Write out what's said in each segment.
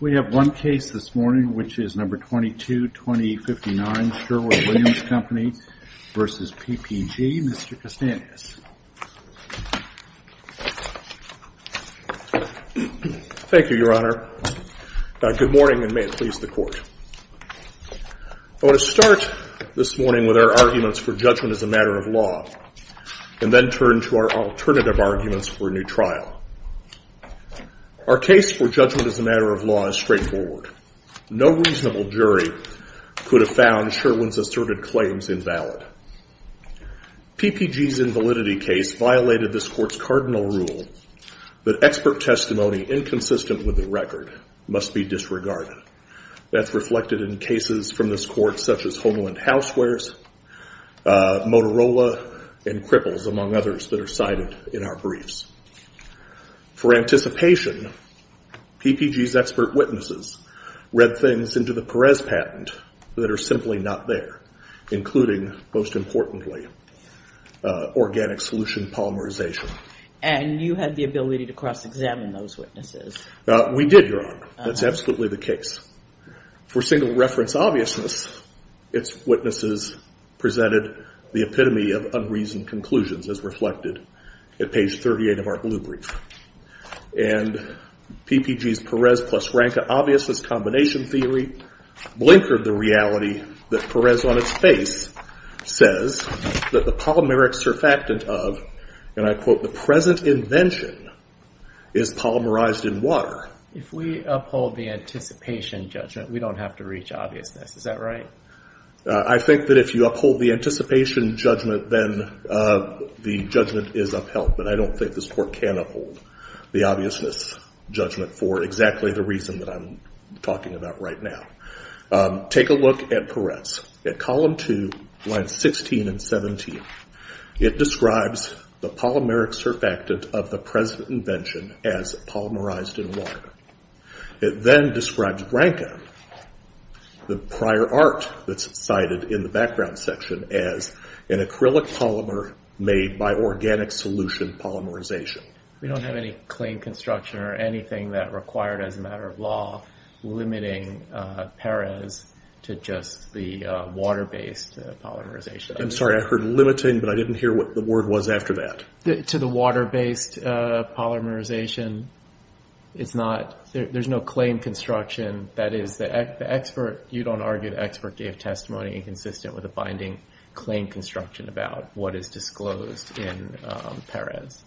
We have one case this morning, which is number 22-20-59, Sherwin-Williams Company versus PPG. Mr. Costantinos. Thank you, Your Honor. Good morning, and may it please the court. I want to start this morning with our arguments for judgment as a matter of law, and then turn to our alternative arguments for a new trial. Our case for judgment as a matter of law is straightforward. No reasonable jury could have found Sherwin's asserted claims invalid. PPG's invalidity case violated this court's cardinal rule that expert testimony inconsistent with the record must be disregarded. That's reflected in cases from this court, such as Homeland Housewares, Motorola, and Cripples, among others that are cited in our briefs. For anticipation, PPG's expert witnesses read things into the Perez patent that are simply not there, including, most importantly, organic solution polymerization. And you had the ability to cross-examine those witnesses. We did, Your Honor. That's absolutely the case. For single reference obviousness, its witnesses presented the epitome of unreasoned conclusions, as reflected at page 38 of our blue brief. And PPG's Perez plus Ranca obviousness combination theory blinkered the reality that Perez, on its face, says that the polymeric surfactant of, and I quote, the present invention, is polymerized in water. If we uphold the anticipation judgment, we don't have to reach obviousness. Is that right? I think that if you uphold the anticipation judgment, then the judgment is upheld. But I don't think this court can uphold the obviousness judgment for exactly the reason that I'm talking about right now. Take a look at Perez. At column two, lines 16 and 17, it describes the polymeric surfactant of the present invention as polymerized in water. It then describes Ranca, the prior art that's cited in the background section, as an acrylic polymer made by organic solution polymerization. We don't have any claim construction or anything that required, as a matter of law, limiting Perez to just the water-based polymerization. I'm sorry, I heard limiting, but I didn't hear what the word was after that. To the water-based polymerization, it's not, there's no claim construction. That is, the expert, you don't argue the expert gave testimony inconsistent with a binding claim construction about what is disclosed in Perez.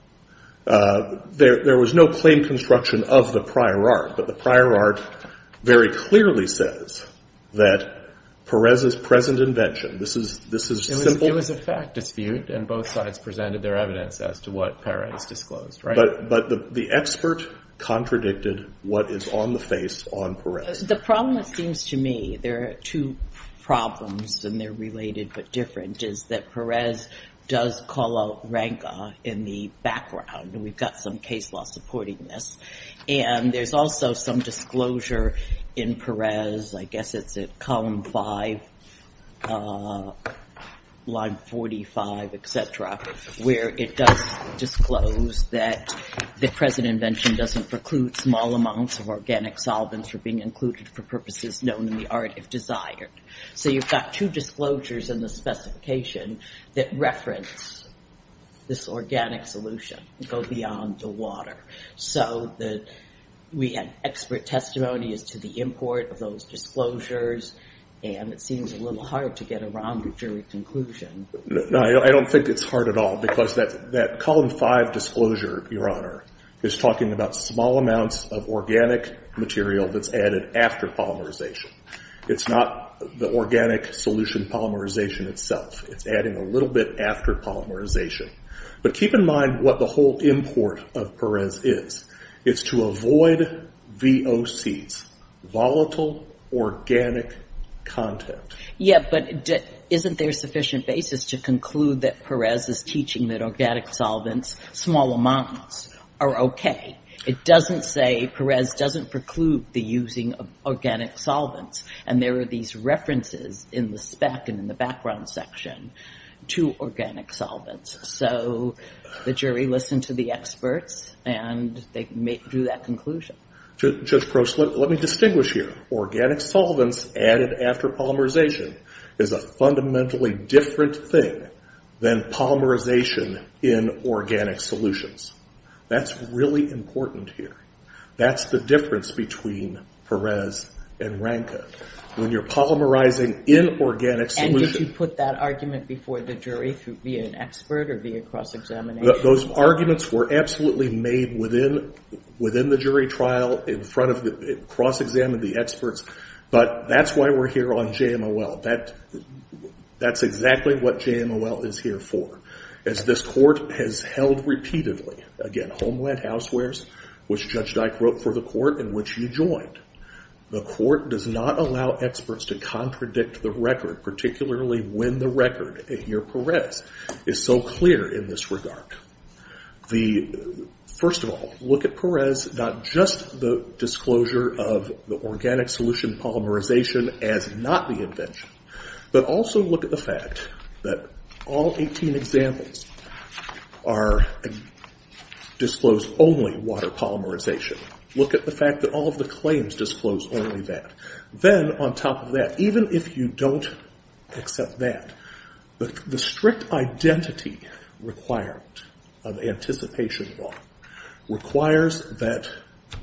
There was no claim construction of the prior art, but the prior art very clearly says that Perez's present invention, this is simple. It was a fact dispute, and both sides presented their evidence as to what Perez disclosed, right? But the expert contradicted what is on the face on Perez. The problem, it seems to me, there are two problems, and they're related but different, is that Perez does call out Ranca in the background. We've got some case law supporting this. And there's also some disclosure in Perez, where it does disclose that the present invention doesn't preclude small amounts of organic solvents for being included for purposes known in the art, if desired. So you've got two disclosures in the specification that reference this organic solution, go beyond the water. So we had expert testimony as to the import of those disclosures, and it seems a little hard to get around a jury conclusion. I don't think it's hard at all, because that column five disclosure, Your Honor, is talking about small amounts of organic material that's added after polymerization. It's not the organic solution polymerization itself. It's adding a little bit after polymerization. But keep in mind what the whole import of Perez is. It's to avoid VOCs, volatile organic content. Yeah, but isn't there sufficient basis to conclude that Perez is teaching that organic solvents, small amounts, are OK? It doesn't say Perez doesn't preclude the using of organic solvents. And there are these references in the spec and in the background section to organic solvents. So the jury listened to the experts, and they drew that conclusion. Judge Prost, let me distinguish here. Organic solvents added after polymerization is a fundamentally different thing than polymerization in organic solutions. That's really important here. That's the difference between Perez and Rankin. When you're polymerizing in organic solutions. And did you put that argument before the jury through being an expert or via cross-examination? Those arguments were absolutely made within the jury trial, in front of the cross-examined experts. But that's why we're here on JMOL. That's exactly what JMOL is here for. As this court has held repeatedly, again, homeland housewares, which Judge Dyke wrote for the court in which you joined. The court does not allow experts to contradict the record, particularly when the record in your Perez is so clear in this regard. First of all, look at Perez, not just the disclosure of the organic solution polymerization as not the invention, but also look at the fact that all 18 examples disclose only water polymerization. Look at the fact that all of the claims disclose only that. Then on top of that, even if you don't accept that, the strict identity requirement of anticipation law requires that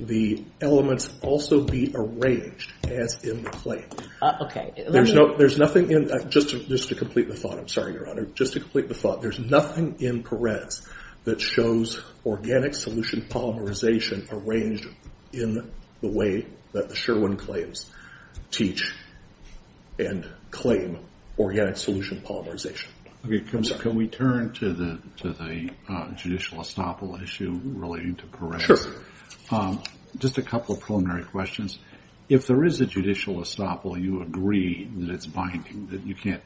the elements also be arranged as in the claim. OK. There's nothing in, just to complete the thought, I'm sorry, Your Honor. Just to complete the thought, there's nothing in Perez that shows organic solution polymerization arranged in the way that the Sherwin claims teach and claim organic solution polymerization. Can we turn to the judicial estoppel issue relating to Perez? Sure. Just a couple of preliminary questions. If there is a judicial estoppel, you agree that it's binding, that you can't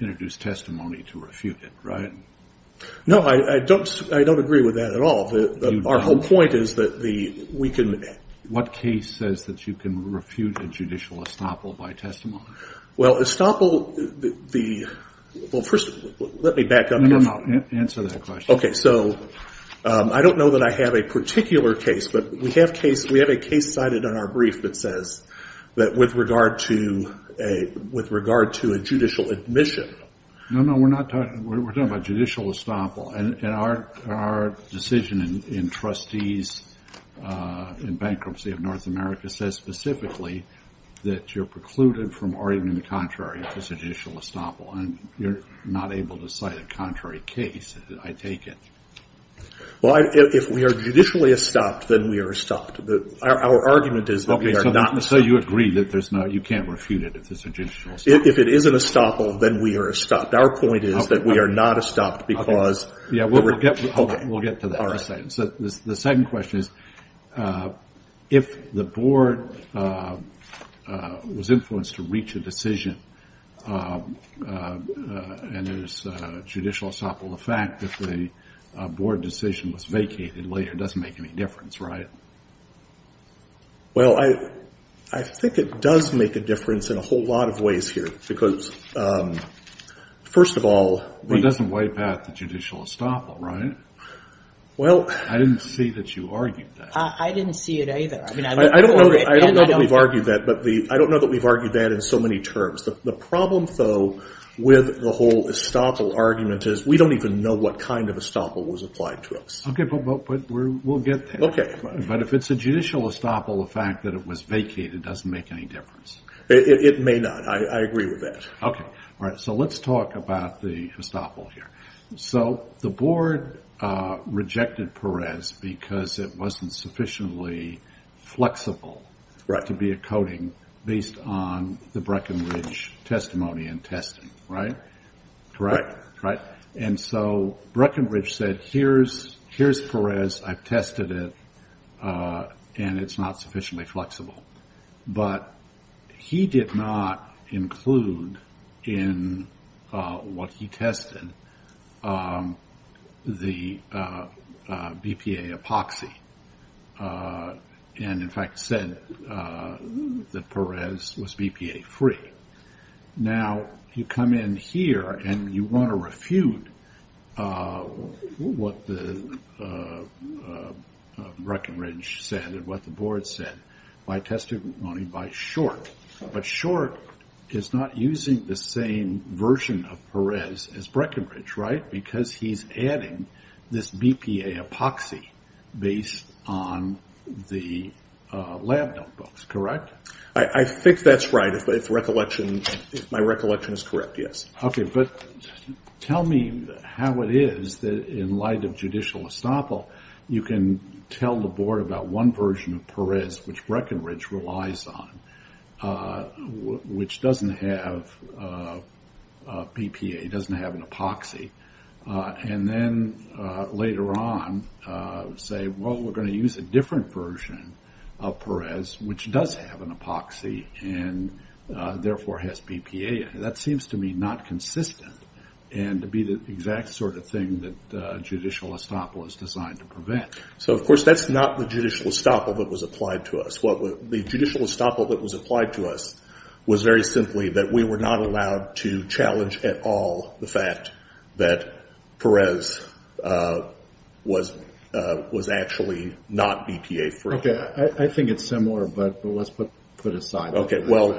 introduce testimony to refute it, right? No, I don't agree with that at all. Our whole point is that we can. What case says that you can refute a judicial estoppel by testimony? Well, estoppel, the, well first, let me back up a moment. Answer that question. OK, so I don't know that I have a particular case, but we have a case cited in our brief that says that with regard to a judicial admission. No, no, we're not talking, we're talking about judicial estoppel. And our decision in trustees in bankruptcy of North America says specifically that you're precluded from arguing the contrary if it's a judicial estoppel. And you're not able to cite a contrary case, I take it. Well, if we are judicially estopped, then we are estopped. Our argument is that we are not. So you agree that there's no, you can't refute it if it's a judicial estoppel. If it is an estoppel, then we are estopped. Our point is that we are not estopped because we're rejecting it. We'll get to that in a second. The second question is, if the board was influenced to reach a decision and there's a judicial estoppel, the fact that the board decision was vacated later doesn't make any difference, right? Well, I think it does make a difference in a whole lot of ways here. Because first of all, the- It doesn't wipe out the judicial estoppel, right? Well- I didn't see that you argued that. I didn't see it either. I mean, I look over it and I don't know. I don't know that we've argued that. But I don't know that we've argued that in so many terms. The problem, though, with the whole estoppel argument is we don't even know what kind of estoppel was applied to us. OK, but we'll get there. OK. But if it's a judicial estoppel, the fact that it was vacated doesn't make any difference. It may not. I agree with that. OK. All right, so let's talk about the estoppel here. So the board rejected Perez because it wasn't sufficiently flexible to be a coding based on the Breckenridge testimony and testing, right? Correct? Right. And so Breckenridge said, here's Perez. I've tested it. And it's not sufficiently flexible. But he did not include in what he tested the BPA epoxy. And in fact, said that Perez was BPA free. Now, you come in here and you want to refute what the Breckenridge said and what the board said by testimony by Short. But Short is not using the same version of Perez as Breckenridge, right? Because he's adding this BPA epoxy based on the lab notebooks, correct? I think that's right, if my recollection is correct, yes. OK, but tell me how it is that in light of judicial estoppel, you can tell the board about one version of Perez which Breckenridge relies on, which doesn't have BPA, doesn't have an epoxy. And then later on say, well, we're going to use a different version of Perez, which does have an epoxy and therefore has BPA. That seems to me not consistent and to be the exact sort of thing that judicial estoppel is designed to prevent. So of course, that's not the judicial estoppel that was applied to us. What the judicial estoppel that was applied to us was very simply that we were not allowed to challenge at all the fact that Perez was actually not BPA free. OK, I think it's similar, but let's put it aside. OK, well,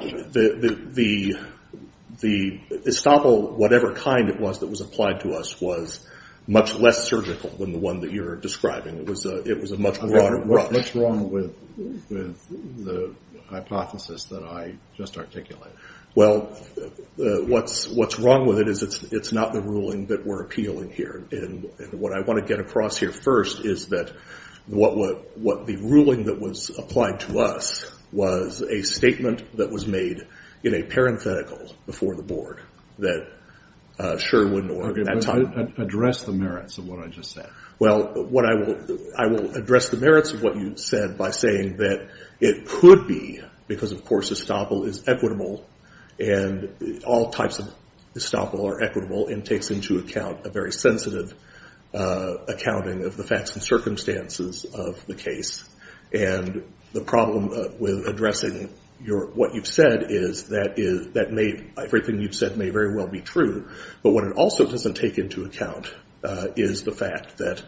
the estoppel, whatever kind it was that was applied to us, was much less surgical than the one that you're describing. It was a much broader brush. What's wrong with the hypothesis that I just articulated? Well, what's wrong with it is it's not the ruling that we're appealing here. And what I want to get across here first is that what the ruling that was applied to us was a statement that was made in a parenthetical before the board that Sherwin or that time. Address the merits of what I just said. Well, I will address the merits of what you said by saying that it could be because, of course, estoppel is equitable. And all types of estoppel are equitable and takes into account a very sensitive accounting of the facts and circumstances of the case. And the problem with addressing what you've said is that everything you've said may very well be true. But what it also doesn't take into account is the fact that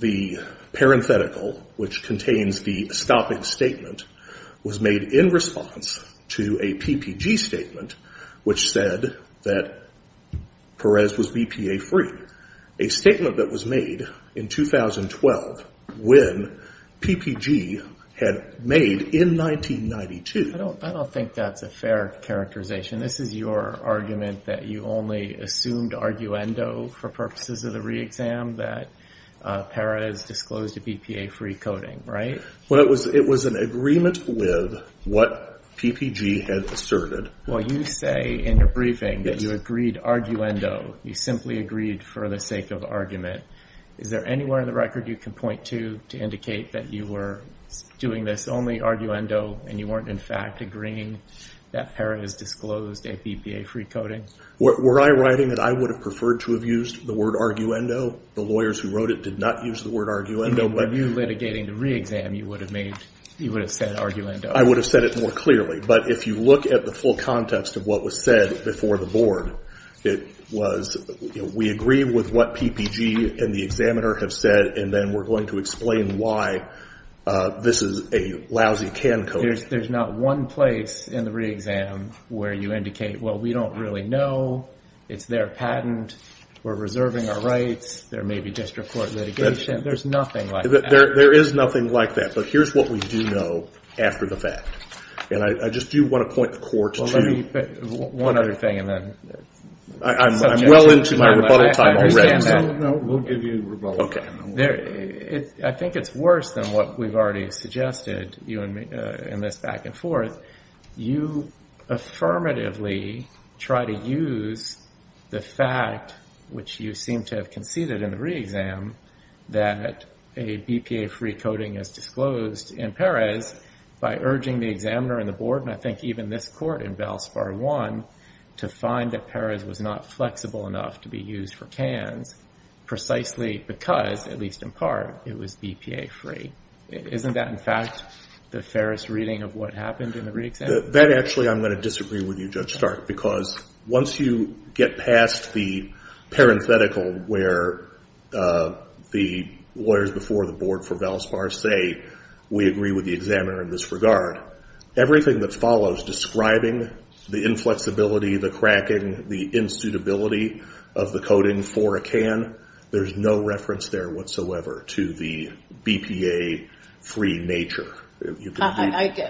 the parenthetical, which contains the stopping statement, was made in response to a PPG statement, which said that Perez was BPA free. A statement that was made in 2012 when PPG had made in 1992. I don't think that's a fair characterization. This is your argument that you only assumed arguendo for purposes of the re-exam that Perez disclosed a BPA free coding, right? Well, it was an agreement with what PPG had asserted. Well, you say in your briefing that you agreed arguendo. You simply agreed for the sake of argument. Is there anywhere in the record you can point to to indicate that you were doing this only arguendo and you weren't, in fact, agreeing that Perez disclosed a BPA free coding? Were I writing that I would have preferred to have used the word arguendo? The lawyers who wrote it did not use the word arguendo. If you were litigating the re-exam, you would have said arguendo. I would have said it more clearly. But if you look at the full context of what was said before the board, it was we agree with what PPG and the examiner have said. And then we're going to explain why this is a lousy can code. There's not one place in the re-exam where you indicate, well, we don't really know. It's their patent. We're reserving our rights. There may be district court litigation. There's nothing like that. There is nothing like that. But here's what we do know after the fact. And I just do want to point the court to. One other thing, and then. I'm well into my rebuttal time already. We'll give you rebuttal time. I think it's worse than what we've already suggested in this back and forth. You affirmatively try to use the fact, which you seem to have conceded in the re-exam, that a BPA-free coding is disclosed in Perez by urging the examiner and the board, and I think even this court in BELS PAR 1, to find that Perez was not flexible enough to be used for CANS precisely because, at least in part, it was BPA-free. Isn't that, in fact, the fairest reading of what happened in the re-exam? That, actually, I'm going to disagree with you, Judge Stark. Because once you get past the parenthetical where the lawyers before the board for BELS PAR say, we agree with the examiner in this regard, everything that follows describing the inflexibility, the cracking, the insuitability of the coding for a CAN, there's no reference there whatsoever to the BPA-free nature.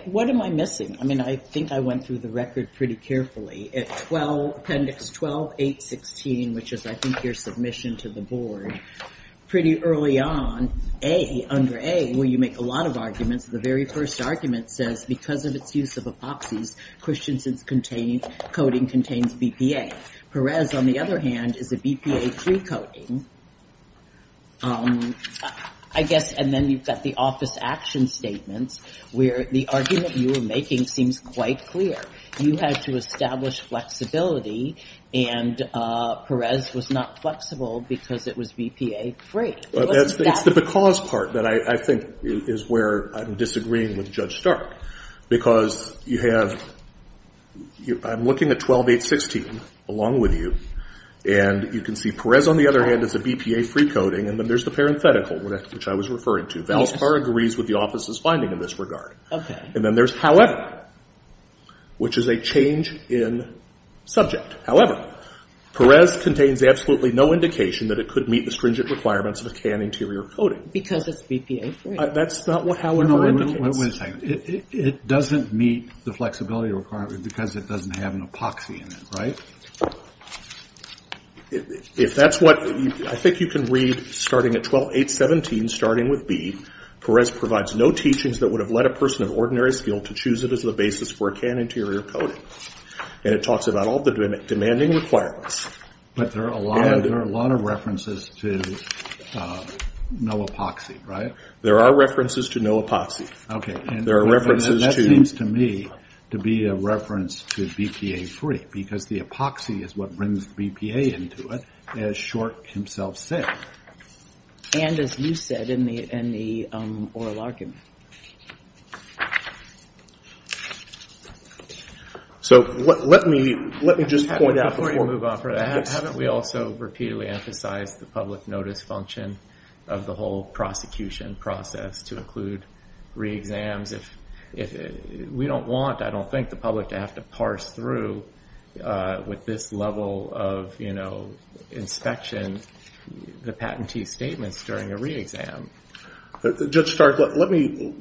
What am I missing? I mean, I think I went through the record pretty carefully. At appendix 12.8.16, which is, I think, your submission to the board, pretty early on, A, under A, where you make a lot of arguments, the very first argument says, because of its use of epoxies, Christiansen's coding contains BPA. Perez, on the other hand, is a BPA-free coding. I guess, and then you've got the office action statements, where the argument you were making seems quite clear. You had to establish flexibility, and Perez was not flexible because it was BPA-free. It's the because part that I think is where I'm disagreeing with Judge Stark. Because you have, I'm looking at 12.8.16, along with you, and you can see Perez, on the other hand, is a BPA-free coding, and then there's the parenthetical, which I was referring to. Valspar agrees with the office's finding in this regard. And then there's however, which is a change in subject. However, Perez contains absolutely no indication that it could meet the stringent requirements of a CAN interior coding. Because it's BPA-free. That's not how it ever indicates. No, wait a second. It doesn't meet the flexibility requirement because it doesn't have an epoxy in it, right? If that's what, I think you can read, starting at 12.8.17, starting with B, Perez provides no teachings that would have led a person of ordinary skill to choose it as the basis for a CAN interior coding. And it talks about all the demanding requirements. But there are a lot of references to no epoxy, right? There are references to no epoxy. OK, and that seems to me to be a reference to BPA-free. Because the epoxy is what brings the BPA into it, as Short himself said. And as you said in the oral argument. So let me just point out before we move on from that, we also repeatedly emphasize the public notice function of the whole prosecution process to include re-exams. If we don't want, I don't think, the public to have to parse through with this level of inspection the patentee's statements during a re-exam. Judge Stark, let me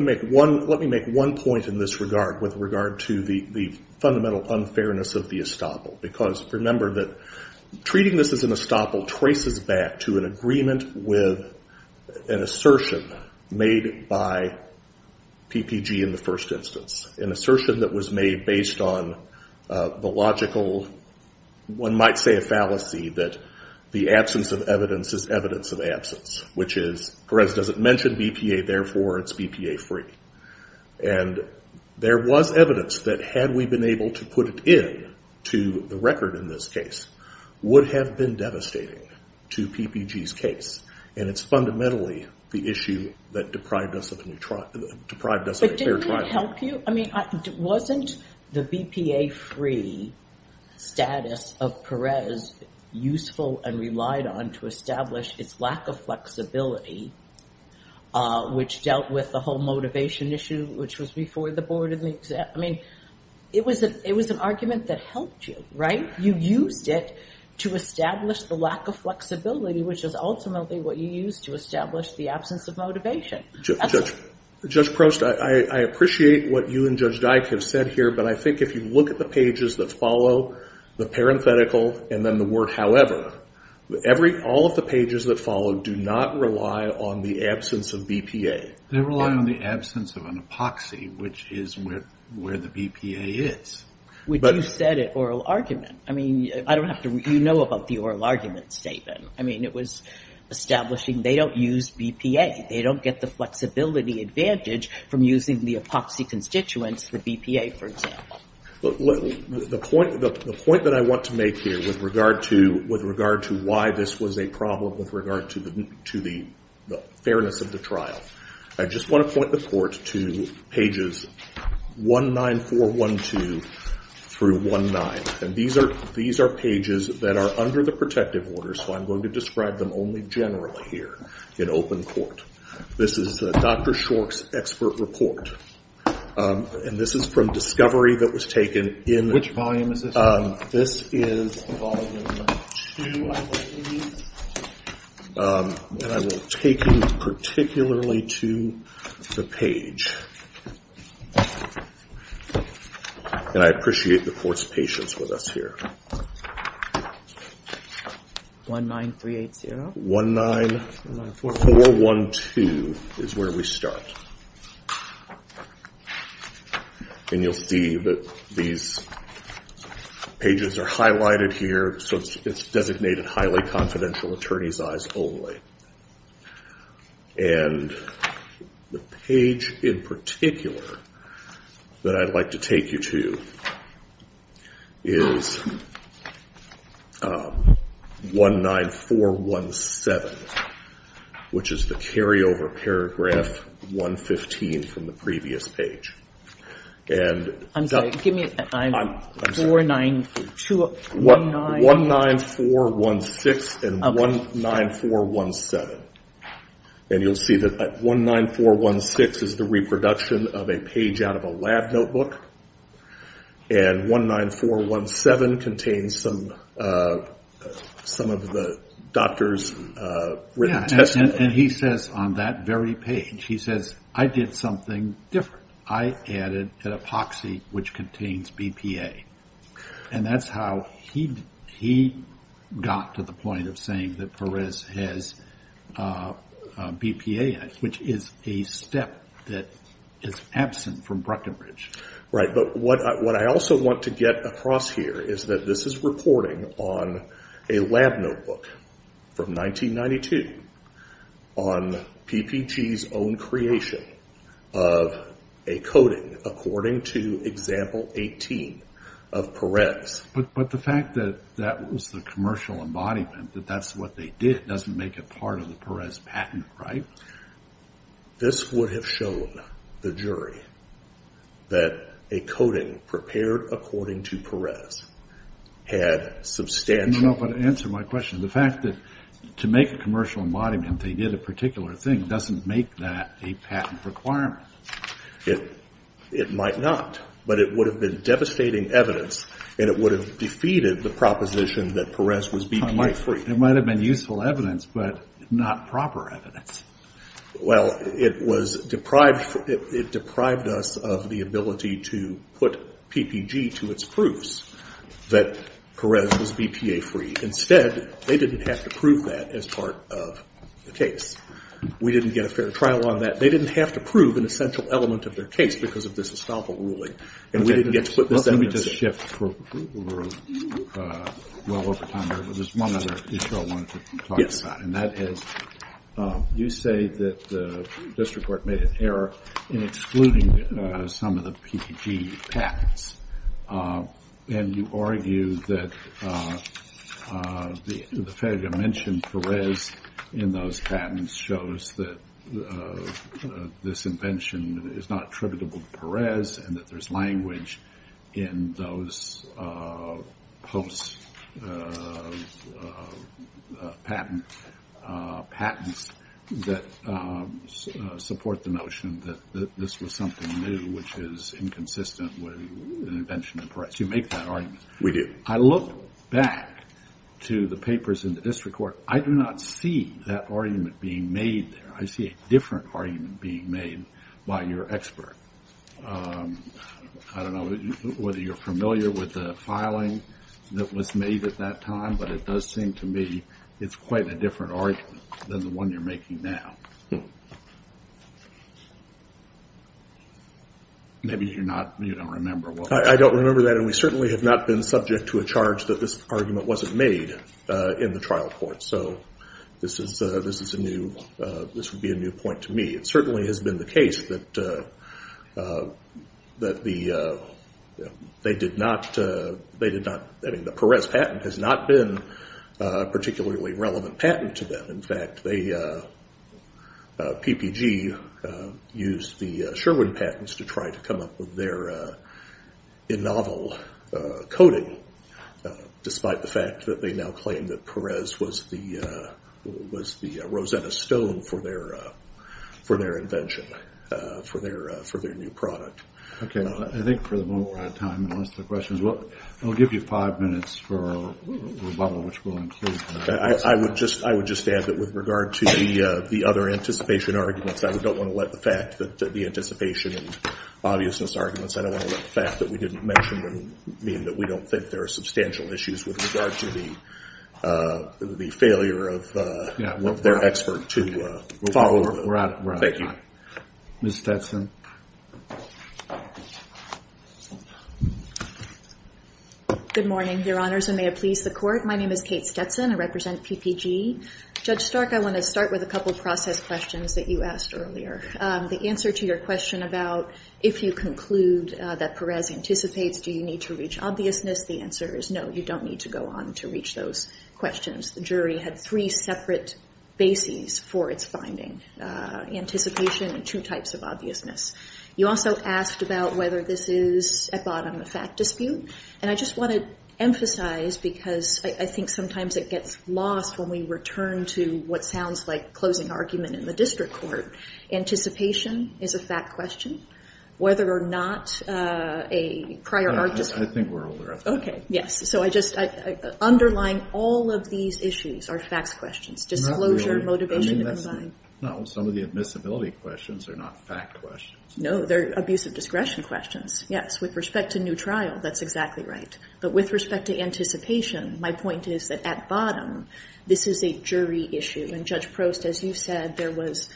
make one point in this regard with regard to the fundamental unfairness of the estoppel. Because remember that treating this as an estoppel traces back to an agreement with an assertion made by PPG in the first instance. An assertion that was made based on the logical, one might say a fallacy, that the absence of evidence is evidence of absence. Which is Perez doesn't mention BPA, therefore it's BPA-free. And there was evidence that had we been able to put it in to the record in this case, would have been devastating to PPG's case. And it's fundamentally the issue that deprived us of a fair trial. But didn't it help you? I mean, wasn't the BPA-free status of Perez useful and relied on to establish its lack of flexibility, which dealt with the whole motivation issue, which was before the board of the exam. I mean, it was an argument that helped you, right? You used it to establish the lack of flexibility, which is ultimately what you used to establish the absence of motivation. Judge Prost, I appreciate what you and Judge Dyke have said here. But I think if you look at the pages that follow the parenthetical and then the word however, all of the pages that follow do not rely on the absence of BPA. They rely on the absence of an epoxy, which is where the BPA is. Which you said at oral argument. I mean, I don't have to read. You know about the oral argument statement. I mean, it was establishing they don't use BPA. They don't get the flexibility advantage from using the epoxy constituents, the BPA, for example. The point that I want to make here with regard to why this was a problem with regard to the fairness of the trial, I just want to point the court to pages 19412 through 19. And these are pages that are under the protective order. So I'm going to describe them only generally here in open court. This is Dr. Shor's expert report. And this is from discovery that was taken in. Which volume is this from? This is volume two, I believe. And I will take you particularly to the page. And I appreciate the court's patience with us here. 19380. 19412 is where we start. And you'll see that these pages are highlighted here. So it's designated highly confidential attorneys' eyes only. And the page in particular that I'd like to take you to is 19417, which is the carryover paragraph 115 from the previous page. And I'm sorry. Give me 49219. 19416 and 19417. And you'll see that 19416 is the reproduction of a page out of a lab notebook. And 19417 contains some of the doctor's written testimony. And he says on that very page, he says, I did something different. I added an epoxy which contains BPA. And that's how he got to the point of saying that Perez has BPA, which is a step that is absent from Bruckenbridge. Right, but what I also want to get across here is that this is reporting on a lab notebook from 1992 on PPG's own creation of a coding according to example 18 of Perez. But the fact that that was the commercial embodiment, that that's what they did, doesn't make it part of the Perez patent, right? This would have shown the jury that a coding prepared according to Perez had substantial. No, but answer my question. The fact that to make a commercial embodiment, they did a particular thing, doesn't make that a patent requirement. It might not, but it would have been devastating evidence. And it would have defeated the proposition that Perez was BPA-free. It might have been useful evidence, but not proper evidence. Well, it deprived us of the ability to put PPG to its proofs that Perez was BPA-free. Instead, they didn't have to prove that as part of the case. We didn't get a fair trial on that. They didn't have to prove an essential element of their case because of this estoppel ruling. And we didn't get to put this evidence in. Let me just shift for a little bit. There's one other issue I wanted to talk about. And that is, you say that the district court made an error in excluding some of the PPG patents. And you argue that the failure to mention Perez in those patents shows that this invention is not attributable to Perez, and that there's language in those post-patent patents that support the notion that this was something new, which is inconsistent with an invention of Perez. You make that argument. We do. I look back to the papers in the district court. I do not see that argument being made there. I see a different argument being made by your expert. I don't know whether you're familiar with the filing that was made at that time, but it does seem to me it's quite a different argument than the one you're making now. Maybe you're not, you don't remember. I don't remember that. And we certainly have not been subject to a charge that this argument wasn't made in the trial court. So this would be a new point to me. It certainly has been the case that the Perez patent has not been a particularly relevant patent to them. In fact, PPG used the Sherwin patents to try to come up with their in novel coding, despite the fact that they now claim that Perez was the Rosetta Stone for their invention, for their new product. OK, I think for the moment we're out of time to answer the questions. I'll give you five minutes for rebuttal, which will include the next question. I would just add that with regard to the other anticipation arguments, I don't want to let the fact that the anticipation and obviousness arguments, I don't want to let the fact that we didn't mention mean that we don't think there are substantial issues with regard to the failure of their expert to follow. We're out of time. Thank you. Ms. Stetson. Good morning, Your Honors. And may it please the court. My name is Kate Stetson. I represent PPG. Judge Stark, I want to start with a couple of process questions that you asked earlier. The answer to your question about, if you conclude that Perez anticipates, do you need to reach obviousness? The answer is no, you don't need to go on to reach those questions. The jury had three separate bases for its finding, anticipation and two types of obviousness. You also asked about whether this is, at bottom, a fact dispute. And I just want to emphasize, because I think sometimes it gets lost when we return to what sounds like closing argument in the district court. Anticipation is a fact question. Whether or not a prior artist. I think we're over. OK, yes. So I just, underlying all of these issues are facts questions. Disclosure, motivation. No, some of the admissibility questions are not fact questions. No, they're abusive discretion questions. Yes, with respect to new trial, that's exactly right. But with respect to anticipation, my point is that at bottom, this is a jury issue. And Judge Prost, as you said, there was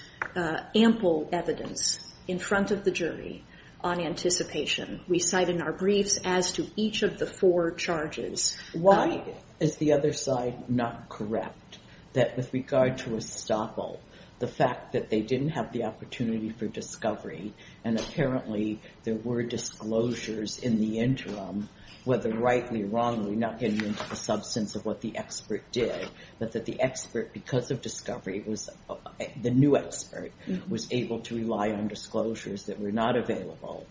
ample evidence in front of the jury on anticipation. We cite in our briefs as to each of the four charges. Why is the other side not correct? That with regard to Estoppel, the fact that they didn't have the opportunity for discovery, and apparently there were disclosures in the interim, whether rightly or wrongly, not getting into the substance of what the expert did, but that the expert, because of discovery, the new expert, was able to rely on disclosures that were not available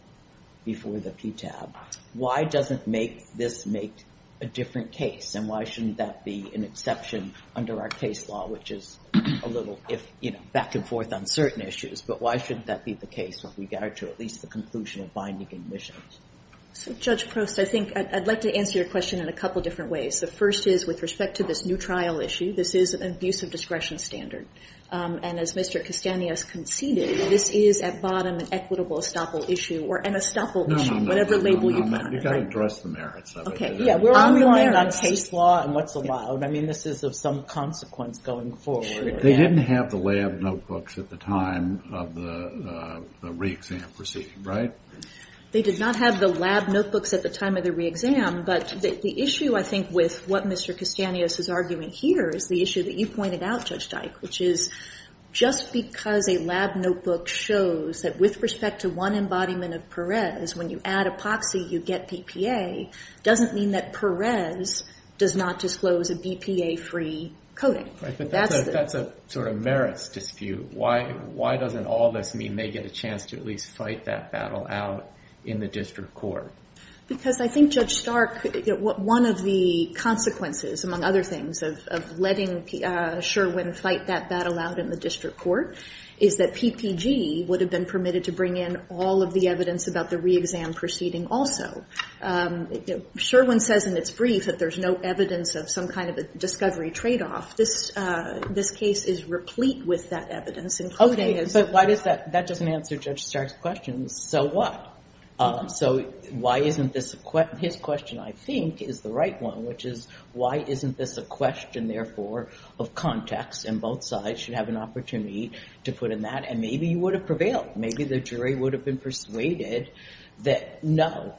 before the PTAB. Why doesn't this make a different case? And why shouldn't that be an exception under our case law, which is a little back and forth on certain issues? But why shouldn't that be the case with regard to at least the conclusion of binding admissions? So Judge Prost, I'd like to answer your question in a couple of different ways. The first is with respect to this new trial issue, this is an abuse of discretion standard. And as Mr. Castaneda has conceded, this is at bottom an equitable Estoppel issue, or an Estoppel issue, whatever label you put on it. No, no, no, no, you've got to address the merits of it. Yeah, we're relying on case law and what's allowed. I mean, this is of some consequence going forward. They didn't have the lab notebooks at the time of the re-exam proceeding, right? They did not have the lab notebooks at the time of the re-exam. But the issue, I think, with what Mr. Castaneda is arguing here is the issue that you pointed out, Judge Dyke, which is just because a lab notebook shows that with respect to one embodiment of Perez, when you add epoxy, you get PPA, doesn't mean that Perez does not disclose a BPA-free coding. That's a sort of merits dispute. Why doesn't all this mean they get a chance to at least fight that battle out in the district court? Because I think Judge Stark, one of the consequences, among other things, of letting Sherwin fight that battle out in the district court is that PPG would have been permitted to bring in all of the evidence about the re-exam proceeding also. Sherwin says in its brief that there's no evidence of some kind of a discovery trade-off. This case is replete with that evidence, including as well. OK, but that doesn't answer Judge Stark's question. So what? So why isn't this his question, I think, is the right one, which is, why isn't this a question, therefore, of context? And both sides should have an opportunity to put in that. And maybe you would have prevailed. Maybe the jury would have been persuaded that, no.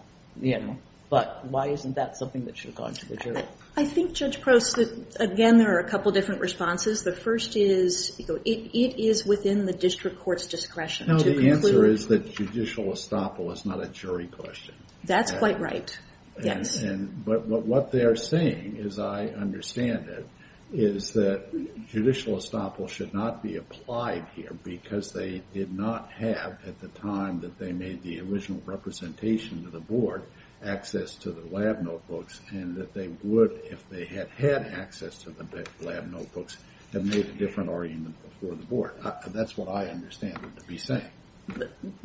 But why isn't that something that should go on to the jury? I think, Judge Prost, that, again, there are a couple of different responses. The first is, it is within the district court's discretion to conclude. The answer is that judicial estoppel is not a jury question. That's quite right, yes. But what they are saying, as I understand it, is that judicial estoppel should not be applied here, because they did not have, at the time that they made the original representation to the board, access to the lab notebooks. And that they would, if they had had access to the lab notebooks, have made a different argument before the board. That's what I understand them to be saying.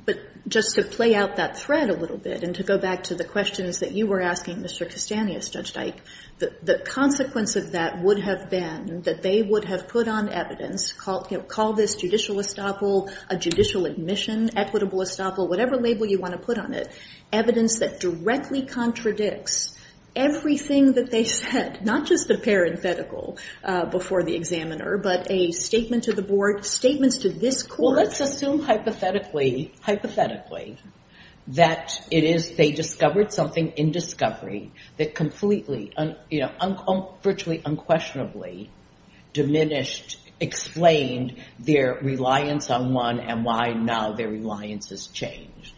But just to play out that thread a little bit, and to go back to the questions that you were asking, Mr. Kastanis, Judge Dyke, the consequence of that would have been that they would have put on evidence, call this judicial estoppel, a judicial admission, equitable estoppel, whatever label you want to put on it, evidence that directly contradicts everything that they said, not just the parenthetical before the examiner, but a statement to the board, statements to this court. Well, let's assume hypothetically, hypothetically, that it is, they discovered something in discovery that completely, virtually unquestionably diminished, explained their reliance on one, and why now their reliance has changed.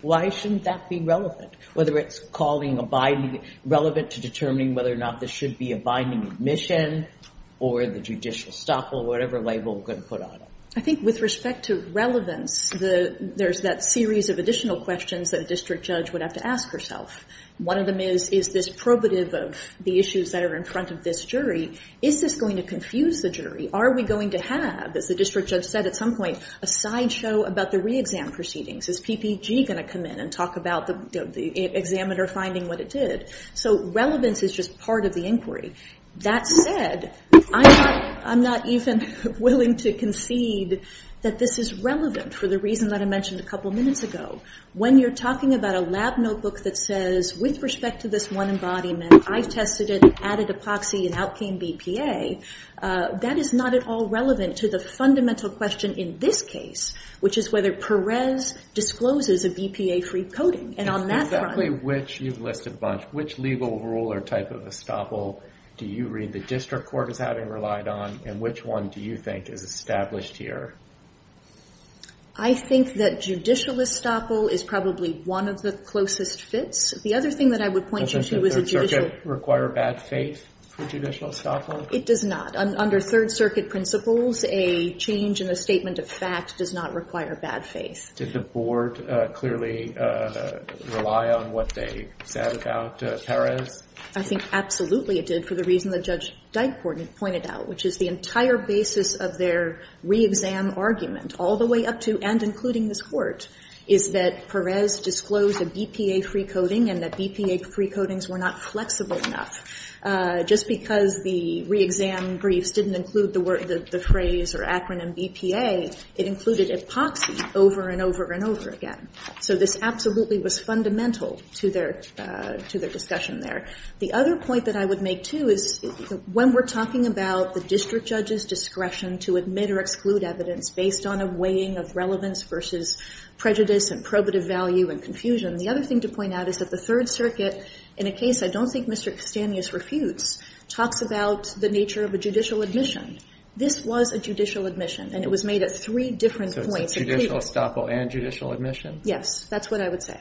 Why shouldn't that be relevant? Whether it's calling a binding, relevant to determining whether or not this should be a binding admission, or the judicial estoppel, whatever label we're gonna put on it. I think with respect to relevance, there's that series of additional questions that a district judge would have to ask herself. One of them is, is this probative of the issues that are in front of this jury, is this going to confuse the jury? Are we going to have, as the district judge said at some point, a sideshow about the re-exam proceedings? Is PPG gonna come in and talk about the examiner finding what it did? So relevance is just part of the inquiry. That said, I'm not even willing to concede that this is relevant for the reason that I mentioned a couple minutes ago. When you're talking about a lab notebook that says, with respect to this one embodiment, I've tested it, added epoxy, and out came BPA, that is not at all relevant to the fundamental question in this case, which is whether Perez discloses a BPA-free coding. And on that front- you've listed a bunch. Which legal rule or type of estoppel do you read the district court as having relied on, and which one do you think is established here? I think that judicial estoppel is probably one of the closest fits. The other thing that I would point you to is a judicial- Doesn't the Third Circuit require bad faith for judicial estoppel? It does not. Under Third Circuit principles, a change in a statement of fact does not require bad faith. Did the board clearly rely on what they said about Perez? I think absolutely it did, for the reason that Judge Dykport had pointed out, which is the entire basis of their re-exam argument, all the way up to and including this Court, is that Perez disclosed a BPA-free coding, and that BPA-free codings were not flexible enough. Just because the re-exam briefs didn't include the phrase or acronym BPA, it included epoxy over and over and over again. So this absolutely was fundamental to their discussion there. The other point that I would make, too, is when we're talking about the district judge's discretion to admit or exclude evidence based on a weighing of relevance versus prejudice and probative value and confusion, the other thing to point out is that the Third Circuit, in a case I don't think Mr. Castaneous refutes, talks about the nature of a judicial admission. This was a judicial admission, and it was made at three different points. So it's judicial estoppel and judicial admission? Yes, that's what I would say.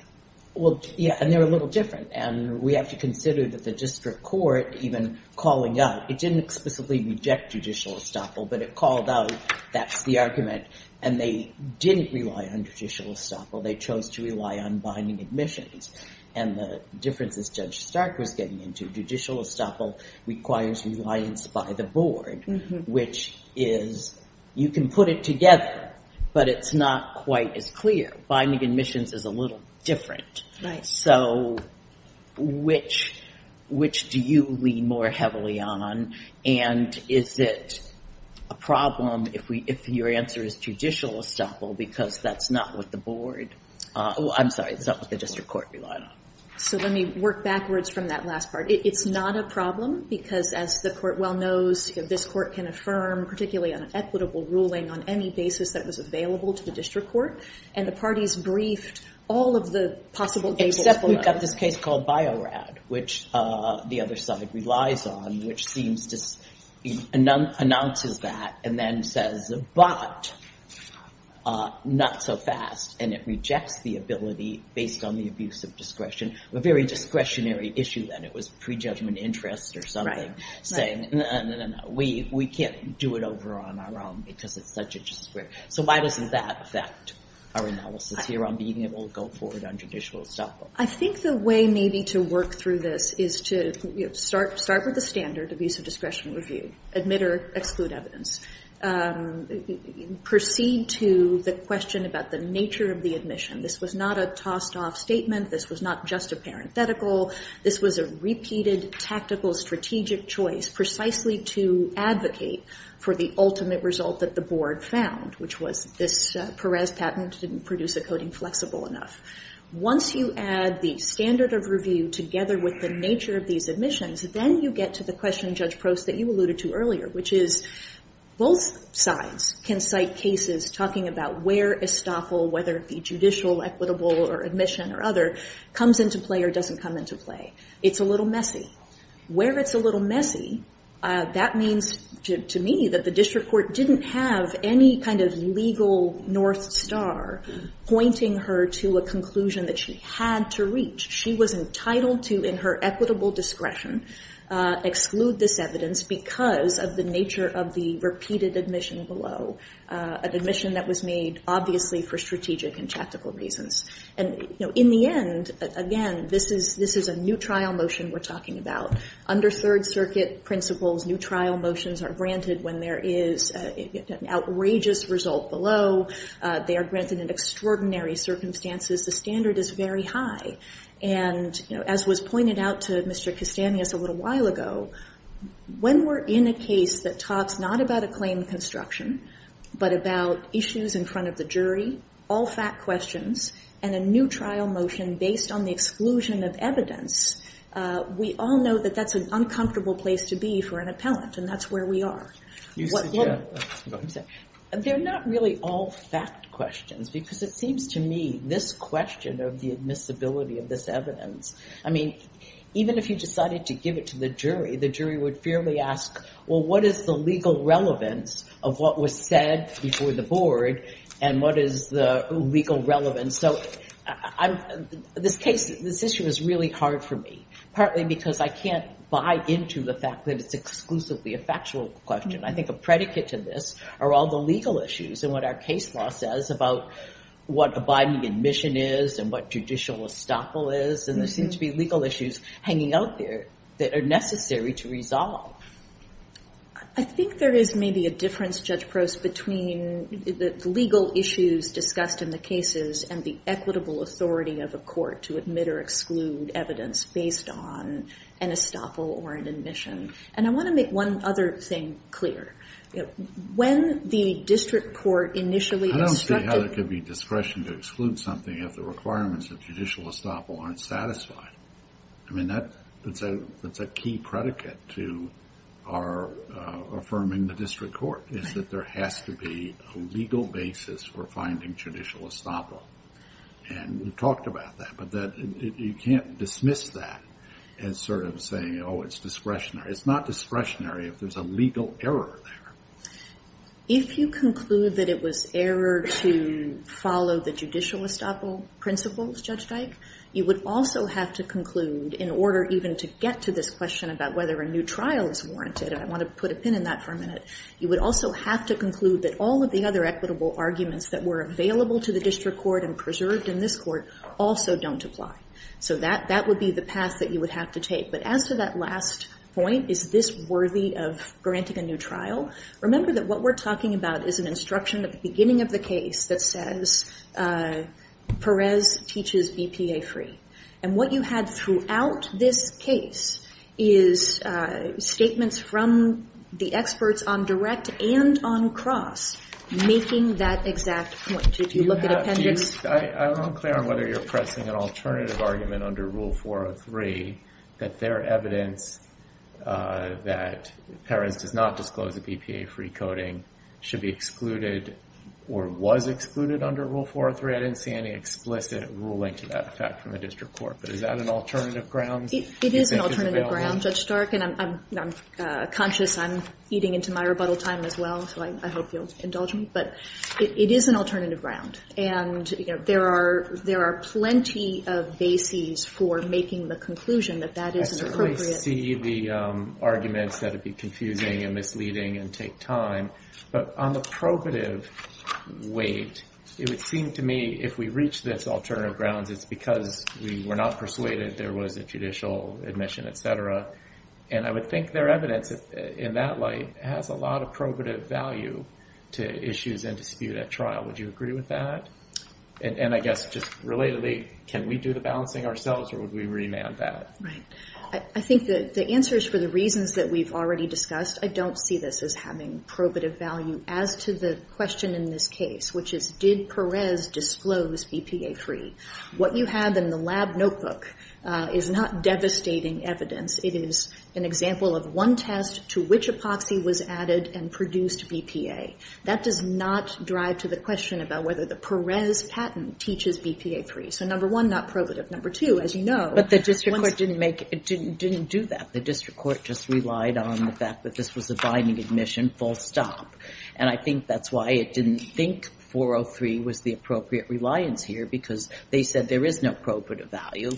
Well, yeah, and they're a little different, and we have to consider that the district court, even calling out, it didn't explicitly reject judicial estoppel, but it called out, that's the argument, and they didn't rely on judicial estoppel. They chose to rely on binding admissions. And the differences Judge Stark was getting into, judicial estoppel requires reliance by the board, which is, you can put it together, but it's not quite as clear. Binding admissions is a little different. So which do you lean more heavily on, and is it a problem if your answer is judicial estoppel, because that's not what the board, I'm sorry, that's not what the district court relied on. So let me work backwards from that last part. It's not a problem, because as the court well knows, this court can affirm particularly an equitable ruling on any basis that was available to the district court, and the parties briefed all of the possible cases. Except we've got this case called Bio-Rad, which the other side relies on, which seems to, announces that, and then says, but, not so fast, and it rejects the ability, based on the abuse of discretion, a very discretionary issue then. It was pre-judgment interest or something, saying, no, no, no, no, we can't do it over on our own, because it's such a discretionary. So why doesn't that affect our analysis here on being able to go forward on judicial estoppel? I think the way maybe to work through this is to start with the standard of use of discretion review. Admit or exclude evidence. Proceed to the question about the nature of the admission. This was not a tossed off statement. This was not just a parenthetical. This was a repeated, tactical, strategic choice, precisely to advocate for the ultimate result that the board found, which was this Perez patent didn't produce a coding flexible enough. Once you add the standard of review together with the nature of these admissions, then you get to the question, Judge Prost, that you alluded to earlier, which is both sides can cite cases talking about where estoppel, whether it be judicial, equitable, or admission, or other, comes into play or doesn't come into play. It's a little messy. Where it's a little messy, that means to me that the district court didn't have any kind of legal north star pointing her to a conclusion that she had to reach. She was entitled to, in her equitable discretion, exclude this evidence because of the nature of the repeated admission below, an admission that was made, obviously, for strategic and tactical reasons. And in the end, again, this is a new trial motion we're talking about. Under Third Circuit principles, new trial motions are granted when there is an outrageous result below. They are granted in extraordinary circumstances. The standard is very high. And as was pointed out to Mr. Castanhas a little while ago, when we're in a case that talks not about a claim construction, but about issues in front of the jury, all fact questions, and a new trial motion based on the exclusion of evidence, we all know that that's an uncomfortable place to be for an appellant, and that's where we are. What- They're not really all fact questions because it seems to me, this question of the admissibility of this evidence, I mean, even if you decided to give it to the jury, the jury would fairly ask, well, what is the legal relevance of what was said before the board and what is the legal relevance? So this case, this issue is really hard for me, partly because I can't buy into the fact that it's exclusively a factual question. I think a predicate to this are all the legal issues and what our case law says about what abiding admission is and what judicial estoppel is. And there seems to be legal issues hanging out there that are necessary to resolve. I think there is maybe a difference, Judge Prose, between the legal issues discussed in the cases and the equitable authority of a court to admit or exclude evidence based on an estoppel or an admission. And I want to make one other thing clear. When the district court initially instructed- I don't see how there could be discretion to exclude something if the requirements of judicial estoppel aren't satisfied. I mean, that's a key predicate to our affirming the district court, is that there has to be a legal basis for finding judicial estoppel. And we've talked about that, but you can't dismiss that as sort of saying, oh, it's discretionary. It's not discretionary if there's a legal error there. If you conclude that it was error to follow the judicial estoppel principles, Judge Dyke, you would also have to conclude, in order even to get to this question and I want to put a pin in that for a minute, you would also have to conclude that all of the other equitable arguments that were available to the district court and preserved in this court also don't apply. So that would be the path that you would have to take. But as to that last point, is this worthy of granting a new trial? Remember that what we're talking about is an instruction at the beginning of the case that says Perez teaches BPA-free. And what you had throughout this case is statements from the experts on direct and on cross making that exact point. If you look at appendix. I'm unclear on whether you're pressing an alternative argument under Rule 403 that their evidence that Perez does not disclose a BPA-free coding should be excluded or was excluded under Rule 403. I didn't see any explicit ruling to that fact from the district court. But is that an alternative grounds? It is an alternative ground, Judge Stark. And I'm conscious I'm eating into my rebuttal time as well. So I hope you'll indulge me. But it is an alternative ground. And there are plenty of bases for making the conclusion that that is appropriate. I certainly see the arguments that it'd be confusing and misleading and take time. But on the probative weight, it would seem to me if we reach this alternative grounds, it's because we were not persuaded there was a judicial admission, et cetera. And I would think their evidence in that light has a lot of probative value to issues and dispute at trial. Would you agree with that? And I guess just relatedly, can we do the balancing ourselves or would we remand that? Right, I think the answers for the reasons that we've already discussed, I don't see this as having probative value as to the question in this case, which is did Perez disclose BPA-free? What you have in the lab notebook is not devastating evidence. It is an example of one test to which epoxy was added and produced BPA. That does not drive to the question about whether the Perez patent teaches BPA-free. So number one, not probative. Number two, as you know- But the district court didn't do that. The district court just relied on the fact that this was a binding admission, full stop. And I think that's why it didn't think 403 was the appropriate reliance here because they said there is no probative value.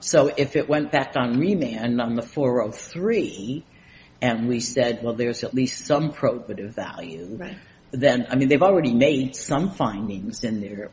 So if it went back on remand on the 403, and we said, well, there's at least some probative value, then, I mean, they've already made some findings in their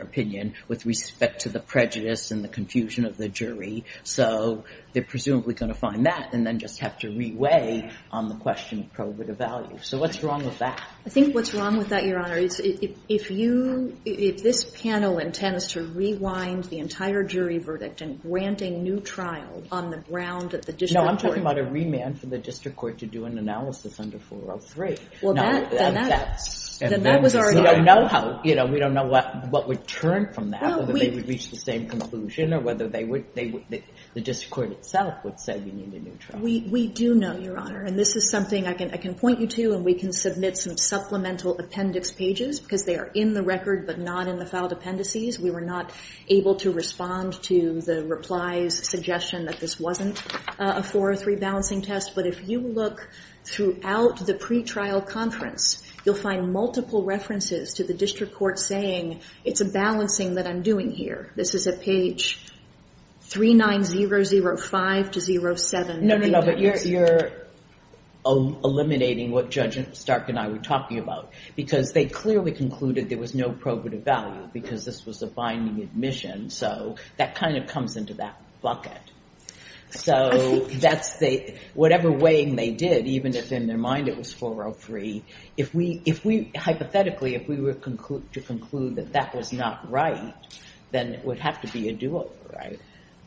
opinion with respect to the prejudice and the confusion of the jury. So they're presumably gonna find that and then just have to reweigh on the question of probative value. So what's wrong with that? I think what's wrong with that, Your Honor, if this panel intends to rewind the entire jury verdict and grant a new trial on the ground at the district court- No, I'm talking about a remand for the district court to do an analysis under 403. Well, then that was already- We don't know what would turn from that, whether they would reach the same conclusion or whether the district court itself would say we need a new trial. We do know, Your Honor. And this is something I can point you to and we can submit some supplemental appendix pages because they are in the record but not in the filed appendices. We were not able to respond to the reply's suggestion that this wasn't a 403 balancing test. But if you look throughout the pretrial conference, you'll find multiple references to the district court saying it's a balancing that I'm doing here. This is at page 39005 to 07. No, no, no, but you're eliminating what Judge Stark and I were talking about because they clearly concluded there was no probative value because this was a binding admission. So that kind of comes into that bucket. So that's the, whatever weighing they did, even if in their mind it was 403, if we, hypothetically, if we were to conclude that that was not right, then it would have to be a do-over, right?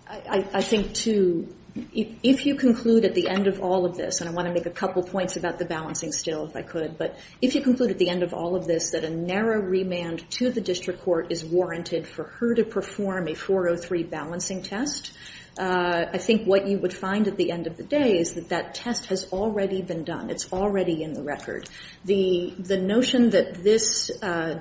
I think, too, if you conclude at the end of all of this, and I want to make a couple points about the balancing still, if I could, but if you conclude at the end of all of this that a narrow remand to the district court is warranted for her to perform a 403 balancing test, I think what you would find at the end of the day is that that test has already been done. It's already in the record. The notion that this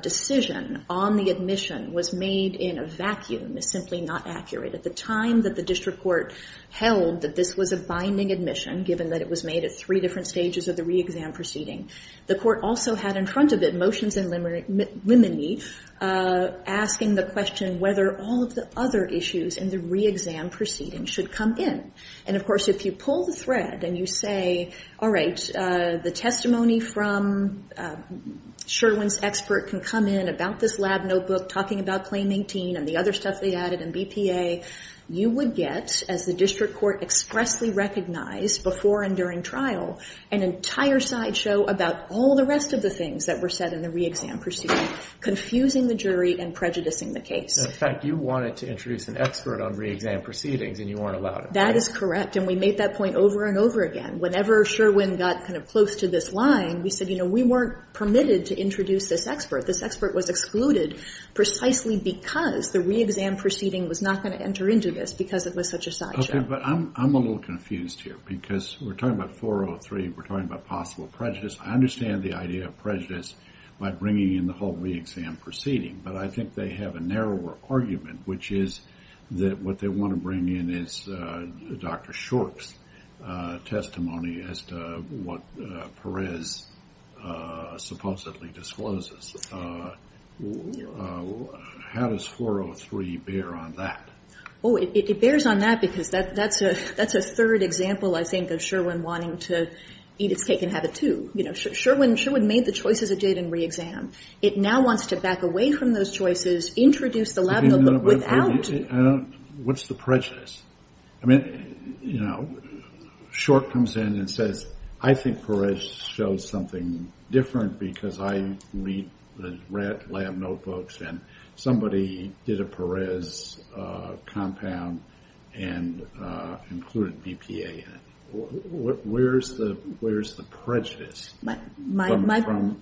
decision on the admission was made in a vacuum is simply not accurate. At the time that the district court held that this was a binding admission, given that it was made at three different stages of the re-exam proceeding, the court also had in front of it motions in limine asking the question whether all of the other issues in the re-exam proceeding should come in. And of course, if you pull the thread and you say, all right, the testimony from Sherwin's expert can come in about this lab notebook talking about claim 18 and the other stuff they added and BPA, you would get, as the district court expressly recognized before and during trial, an entire sideshow about all the rest of the things that were said in the re-exam proceeding, confusing the jury and prejudicing the case. In fact, you wanted to introduce an expert on re-exam proceedings and you weren't allowed it. That is correct. And we made that point over and over again. Whenever Sherwin got kind of close to this line, we said, you know, we weren't permitted to introduce this expert. This expert was excluded precisely because the re-exam proceeding was not going to enter into this because it was such a sideshow. Okay, but I'm a little confused here because we're talking about 403. We're talking about possible prejudice. I understand the idea of prejudice by bringing in the whole re-exam proceeding, but I think they have a narrower argument, which is that what they want to bring in is Dr. Short's testimony as to what Perez supposedly discloses. How does 403 bear on that? Oh, it bears on that because that's a third example, I think, of Sherwin wanting to eat its cake and have it too. You know, Sherwin made the choices of date and re-exam. It now wants to back away from those choices, introduce the lab notebook without... What's the prejudice? I mean, you know, Short comes in and says, I think Perez shows something different because I read the lab notebooks and somebody did a Perez compound and included BPA in it. Where's the prejudice from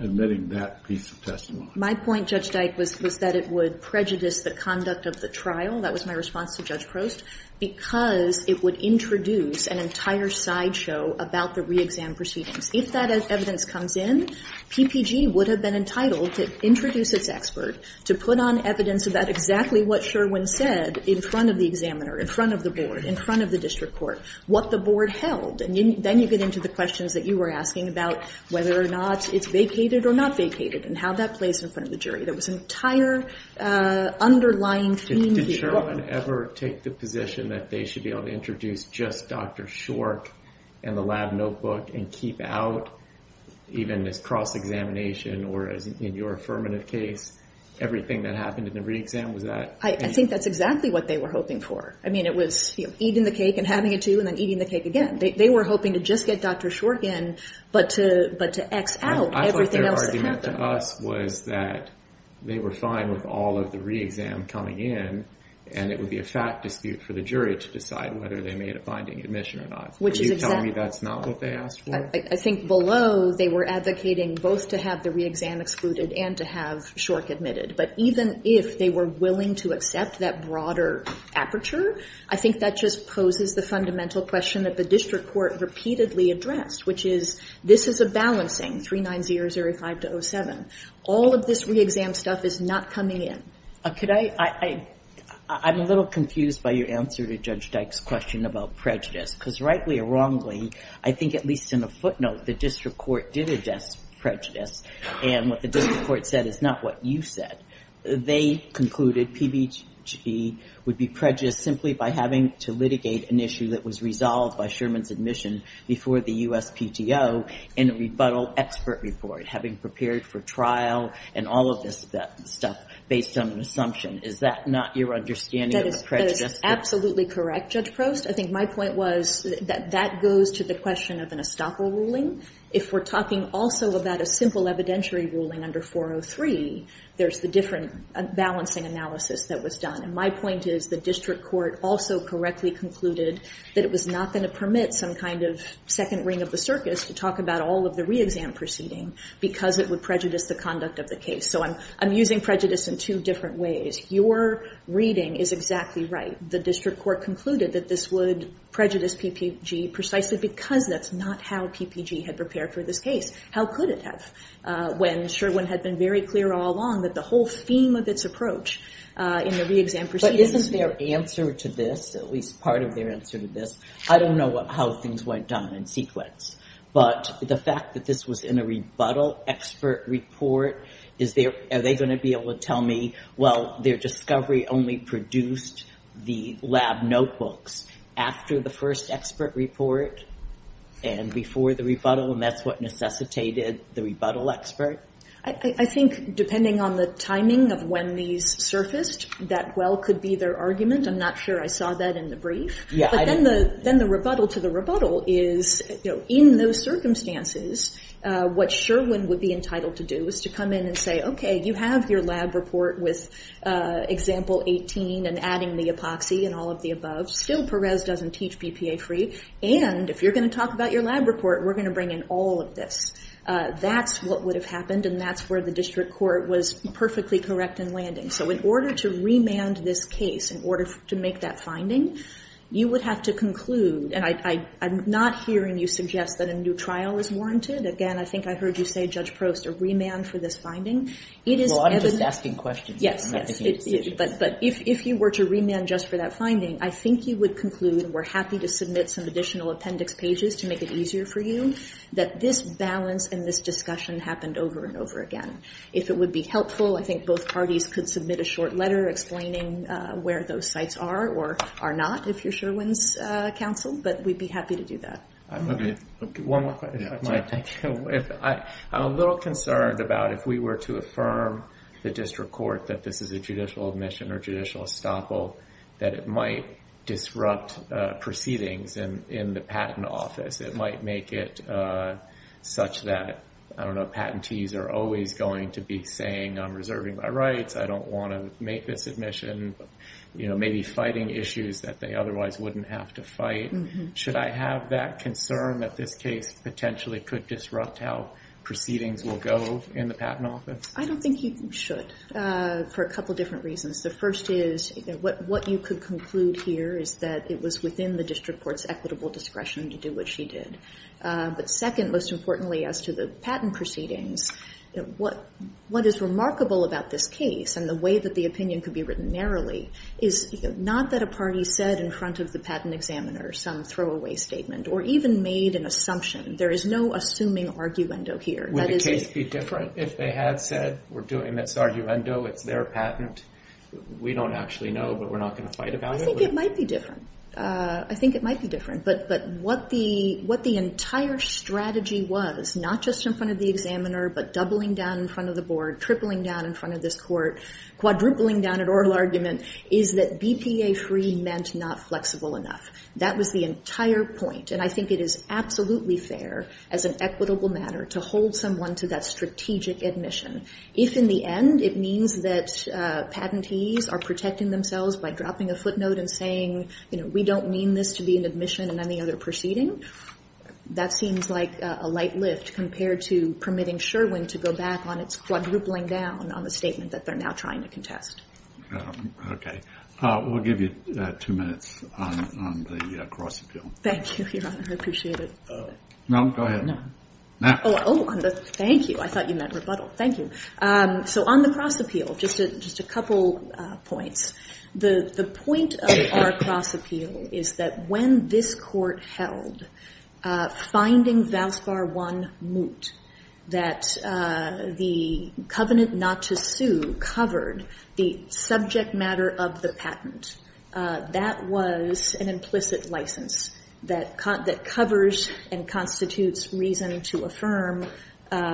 admitting that piece of testimony? My point, Judge Dyke, was that it would prejudice the conduct of the trial. That was my response to Judge Prost because it would introduce an entire sideshow about the re-exam proceedings. If that evidence comes in, it would introduce its expert to put on evidence about exactly what Sherwin said in front of the examiner, in front of the board, in front of the district court, what the board held. And then you get into the questions that you were asking about whether or not it's vacated or not vacated and how that plays in front of the jury. There was an entire underlying theme here. Did Sherwin ever take the position that they should be able to introduce just Dr. Short and the lab notebook and keep out even this cross-examination or as in your affirmative case, everything that happened in the re-exam, was that? I think that's exactly what they were hoping for. I mean, it was eating the cake and having it too and then eating the cake again. They were hoping to just get Dr. Short in but to X out everything else that happened. I thought their argument to us was that they were fine with all of the re-exam coming in and it would be a fat dispute for the jury to decide whether they made a binding admission or not. Which is exactly- Are you telling me that's not what they asked for? I think below they were advocating both to have the re-exam excluded and to have Short admitted but even if they were willing to accept that broader aperture, I think that just poses the fundamental question that the district court repeatedly addressed which is, this is a balancing 390 or 05 to 07. All of this re-exam stuff is not coming in. I'm a little confused by your answer to Judge Dyke's question about prejudice because rightly or wrongly, I think at least in a footnote, the district court did address prejudice and what the district court said is not what you said. They concluded PBG would be prejudiced simply by having to litigate an issue that was resolved by Sherman's admission before the USPTO in a rebuttal expert report having prepared for trial and all of this stuff based on an assumption. Is that not your understanding of the prejudice? That is absolutely correct, Judge Prost. I think my point was that that goes to the question of an estoppel ruling. If we're talking also about a simple evidentiary ruling under 403, there's the different balancing analysis that was done and my point is the district court also correctly concluded that it was not gonna permit some kind of second ring of the circus to talk about all of the re-exam proceeding because it would prejudice the conduct of the case. So I'm using prejudice in two different ways. Your reading is exactly right. The district court concluded that this would prejudice PPG precisely because that's not how PPG had prepared for this case. How could it have when Sherwin had been very clear all along that the whole theme of its approach in the re-exam proceedings. But isn't their answer to this, at least part of their answer to this, I don't know how things went down in sequence but the fact that this was in a rebuttal expert report, are they gonna be able to tell me, well, their discovery only produced the lab notebooks after the first expert report and before the rebuttal and that's what necessitated the rebuttal expert? I think depending on the timing of when these surfaced, that well could be their argument. I'm not sure I saw that in the brief. But then the rebuttal to the rebuttal is, in those circumstances, what Sherwin would be entitled to do is to come in and say, okay, you have your lab report with example 18 and adding the epoxy and all of the above. Still Perez doesn't teach BPA-free and if you're gonna talk about your lab report, we're gonna bring in all of this. That's what would have happened and that's where the district court was perfectly correct in landing. So in order to remand this case, in order to make that finding, you would have to conclude, and I'm not hearing you suggest that a new trial is warranted. Again, I think I heard you say, Judge Prost, a remand for this finding. Well, I'm just asking questions. Yes, but if you were to remand just for that finding, I think you would conclude, we're happy to submit some additional appendix pages to make it easier for you, that this balance and this discussion happened over and over again. If it would be helpful, I think both parties could submit a short letter explaining where those sites are or are not if you're Sherwin's counsel, but we'd be happy to do that. Okay, one more question if I might. I'm a little concerned about if we were to affirm the district court that this is a judicial admission or judicial estoppel, that it might disrupt proceedings in the patent office. It might make it such that, I don't know, patentees are always going to be saying, I'm reserving my rights, I don't want to make this admission, maybe fighting issues that they otherwise wouldn't have to fight. Should I have that concern that this case potentially could disrupt how proceedings will go in the patent office? I don't think you should, for a couple of different reasons. The first is, what you could conclude here is that it was within the district court's equitable discretion to do what she did. But second, most importantly, as to the patent proceedings, what is remarkable about this case and the way that the opinion could be written narrowly is not that a party said in front of the patent examiner some throwaway statement or even made an assumption. There is no assuming arguendo here. Would the case be different if they had said, we're doing this arguendo, it's their patent, we don't actually know, but we're not going to fight about it? I think it might be different. I think it might be different. But what the entire strategy was, not just in front of the examiner, but doubling down in front of the board, tripling down in front of this court, quadrupling down at oral argument, is that BPA-free meant not flexible enough. That was the entire point. And I think it is absolutely fair as an equitable matter to hold someone to that strategic admission. If in the end it means that patentees are protecting themselves by dropping a footnote and saying, we don't mean this to be an admission in any other proceeding, that seems like a light lift compared to permitting Sherwin to go back on its quadrupling down on the statement that they're now trying to contest. Okay, we'll give you two minutes on the cross appeal. Thank you, Your Honor, I appreciate it. No, go ahead. Oh, thank you, I thought you meant rebuttal. Thank you. So on the cross appeal, just a couple points. The point of our cross appeal is that when this court held finding Valspar I moot, that the covenant not to sue covered the subject matter of the patent, that was an implicit license that covers and constitutes reason to affirm on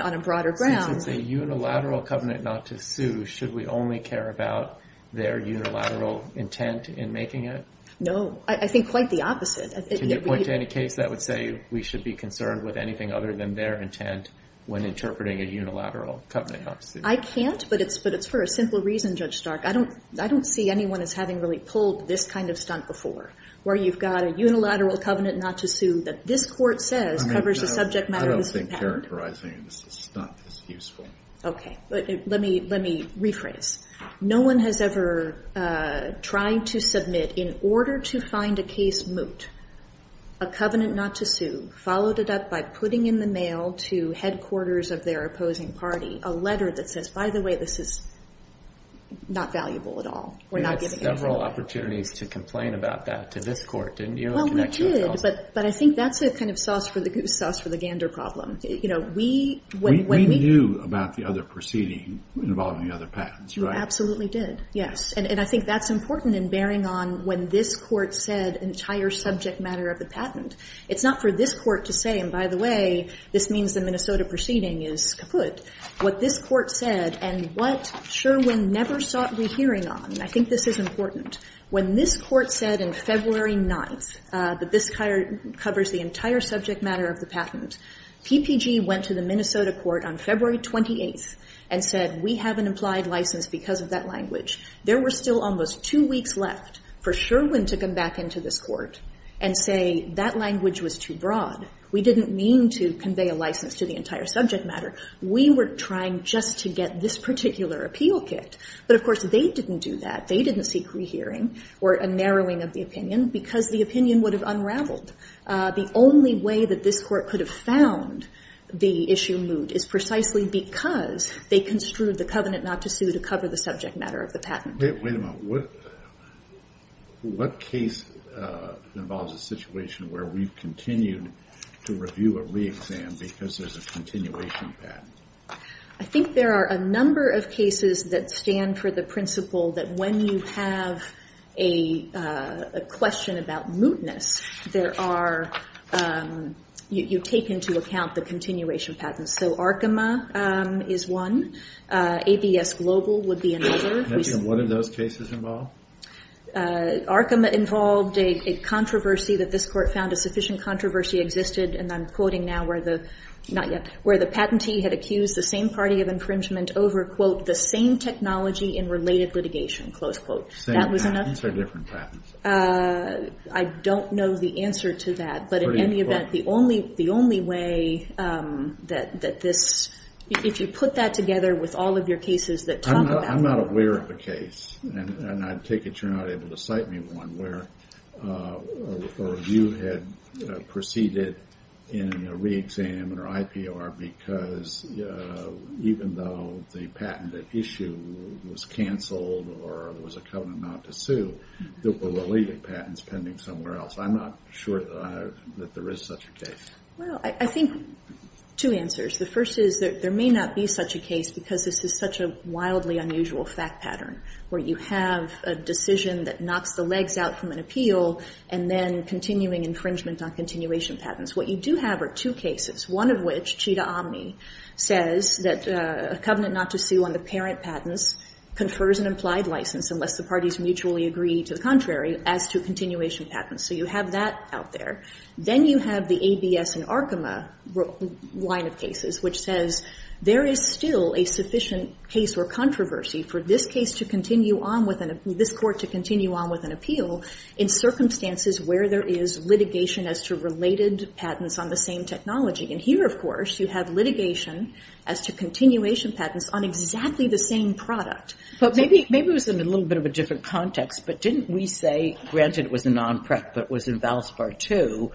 a broader ground. Since it's a unilateral covenant not to sue, should we only care about their unilateral intent in making it? No, I think quite the opposite. Can you point to any case that would say we should be concerned with anything other than their intent when interpreting a unilateral covenant not to sue? I can't, but it's for a simple reason, Judge Stark. I don't see anyone as having really pulled this kind of stunt before, where you've got a unilateral covenant not to sue that this court says covers the subject matter of this patent. I don't think characterizing this as a stunt is useful. Okay, let me rephrase. No one has ever tried to submit, in order to find a case moot, a covenant not to sue followed it up by putting in the mail to headquarters of their opposing party a letter that says, by the way, this is not valuable at all. We're not giving it to them. You had several opportunities to complain about that to this court, didn't you? Well, we did, but I think that's a kind of sauce for the goose sauce for the gander problem. We knew about the other proceeding involving the other patents, right? You absolutely did, yes. And I think that's important in bearing on when this court said entire subject matter of the patent. It's not for this court to say, and by the way, this means the Minnesota proceeding is kaput. What this court said and what Sherwin never sought rehearing on, and I think this is important, when this court said in February 9th, that this covers the entire subject matter of the patent, PPG went to the Minnesota court on February 28th and said, we have an implied license because of that language. There were still almost two weeks left for Sherwin to come back into this court and say that language was too broad. We didn't mean to convey a license to the entire subject matter. We were trying just to get this particular appeal kicked. But of course, they didn't do that. They didn't seek rehearing or a narrowing of the opinion because the opinion would have unraveled. The only way that this court could have found the issue moved is precisely because they construed the covenant not to sue to cover the subject matter of the patent. Wait a minute, what case involves a situation where we've continued to review a re-exam because there's a continuation patent? I think there are a number of cases that stand for the principle that when you have a question about mootness, you take into account the continuation patents. So Arkema is one. ABS Global would be another. And what do those cases involve? Arkema involved a controversy that this court found a sufficient controversy existed, and I'm quoting now where the, not yet, where the patentee had accused the same party of infringement over, quote, the same technology in related litigation, close quote. That was enough? These are different patents. I don't know the answer to that. But in any event, the only way that this, if you put that together with all of your cases that talk about that. I'm not aware of a case, and I take it you're not able to cite me one, where a review had proceeded in a re-exam or IPR because even though the patented issue was canceled or there was a covenant not to sue, there were related patents pending somewhere else. I'm not sure that there is such a case. Well, I think two answers. The first is that there may not be such a case because this is such a wildly unusual fact pattern where you have a decision that knocks the legs out from an appeal and then continuing infringement on continuation patents. What you do have are two cases, one of which Chita Omni says that a covenant not to sue on the parent patents confers an implied license unless the parties mutually agree to the contrary as to continuation patents. So you have that out there. Then you have the ABS and Arkema line of cases, which says there is still a sufficient case or controversy for this case to continue on with an, this court to continue on with an appeal in circumstances where there is litigation as to related patents on the same technology. And here, of course, you have litigation as to continuation patents on exactly the same product. But maybe it was in a little bit of a different context, but didn't we say, granted it was a non-prep, but it was in Valspar II,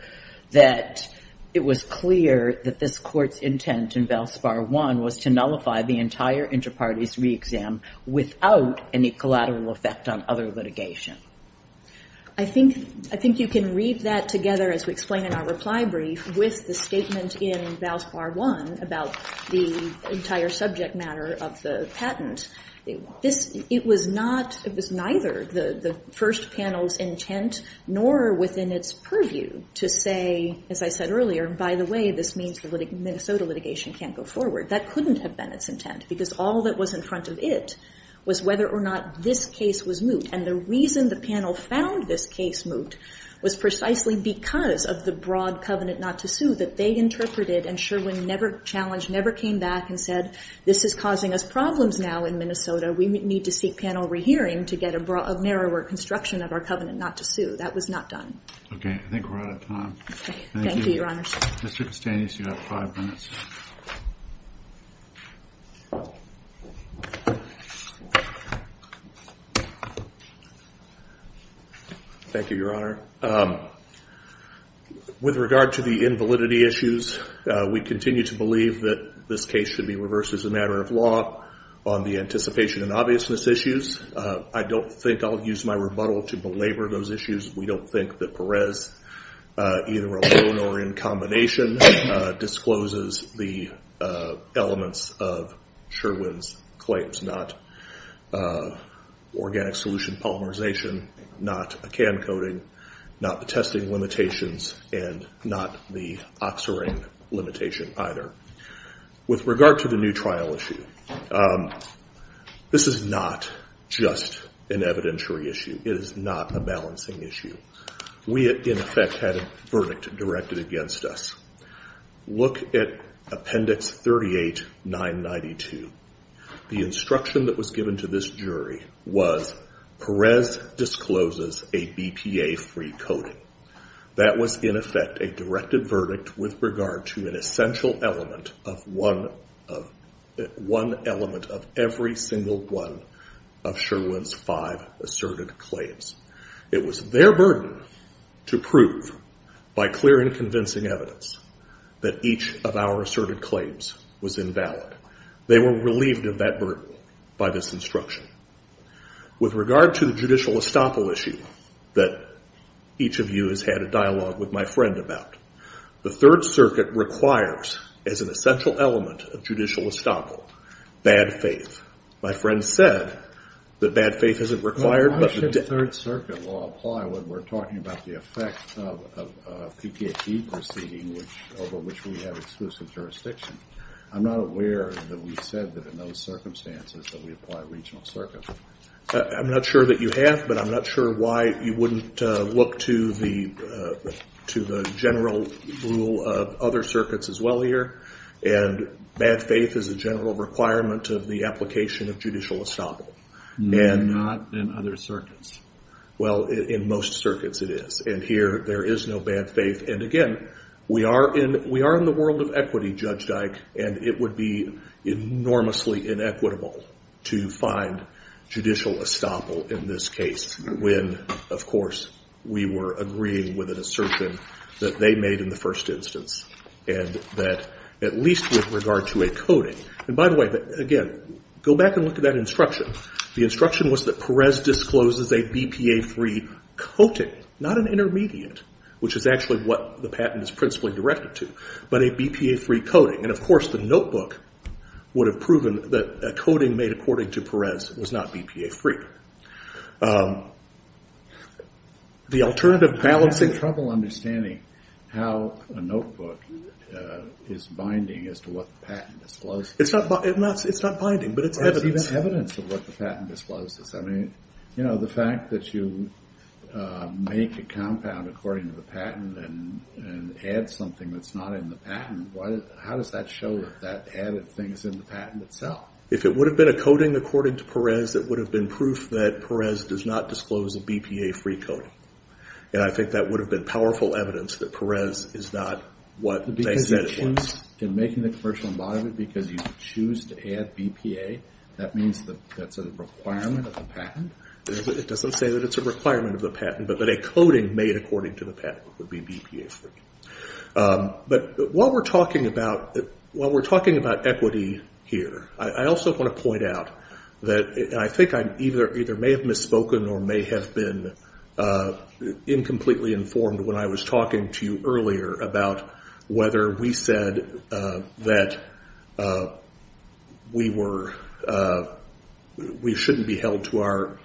that it was clear that this court's intent in Valspar I was to nullify the entire inter-parties re-exam without any collateral effect on other litigation. I think you can read that together as we explain in our reply brief with the statement in Valspar I about the entire subject matter of the patent. It was neither the first panel's intent nor within its purview to say, as I said earlier, by the way, this means the Minnesota litigation can't go forward. That couldn't have been its intent because all that was in front of it was whether or not this case was moot. And the reason the panel found this case moot was precisely because of the broad covenant not to sue that they interpreted and Sherwin never challenged, never came back and said, this is causing us problems now in Minnesota. We need to seek panel rehearing to get a narrower construction of our covenant not to sue. That was not done. Okay, I think we're out of time. Thank you, Your Honor. Mr. Castanis, you have five minutes. Thank you, Your Honor. With regard to the invalidity issues, we continue to believe that this case should be reversed as a matter of law on the anticipation and obviousness issues. I don't think I'll use my rebuttal to belabor those issues. We don't think that Perez, either alone or in combination, discloses the elements of Sherwin's claims, not organic solution polymerization, not a can coating, not the testing limitations, and not the oxirane limitation either. With regard to the new trial issue, this is not just an evidentiary issue. It is not a balancing issue. We, in effect, had a verdict directed against us. Look at Appendix 38-992. The instruction that was given to this jury was Perez discloses a BPA-free coating. That was, in effect, a directed verdict with regard to an essential element of one element of every single one of Sherwin's five asserted claims. It was their burden to prove, by clear and convincing evidence, that each of our asserted claims was invalid. They were relieved of that burden by this instruction. With regard to the judicial estoppel issue that each of you has had a dialogue with my friend about, the Third Circuit requires, as an essential element of judicial estoppel, bad faith. My friend said that bad faith isn't required, but the Third Circuit will apply when we're talking about the effect of a PPHE proceeding over which we have exclusive jurisdiction. I'm not aware that we said that in those circumstances that we apply regional circuit. I'm not sure that you have, but I'm not sure why you wouldn't look to the general rule of other circuits as well here. Bad faith is a general requirement of the application of judicial estoppel. Not in other circuits. Well, in most circuits it is. And here, there is no bad faith. And again, we are in the world of equity, Judge Dike, and it would be enormously inequitable to find judicial estoppel in this case when, of course, we were agreeing with an assertion that they made in the first instance. And that, at least with regard to a coding, and by the way, again, go back and look at that instruction. The instruction was that Perez discloses a BPA-free coding, not an intermediate, which is actually what the patent is principally directed to, but a BPA-free coding. And of course, the notebook would have proven that a coding made according to Perez was not BPA-free. The alternative balancing- I'm having trouble understanding how a notebook is binding as to what the patent discloses. It's not binding, but it's evidence. It's evidence of what the patent discloses. I mean, the fact that you make a compound according to the patent and add something that's not in the patent, how does that show that that added thing is in the patent itself? If it would have been a coding according to Perez, it would have been proof that Perez does not disclose a BPA-free coding. And I think that would have been powerful evidence that Perez is not what they said it was. In making the commercial embodiment, because you choose to add BPA, that means that that's a requirement of the patent? It doesn't say that it's a requirement of the patent, but that a coding made according to the patent would be BPA-free. But while we're talking about equity here, I also want to point out that, I think I either may have misspoken or may have been incompletely informed when I was talking to you earlier about whether we said that we shouldn't be held to our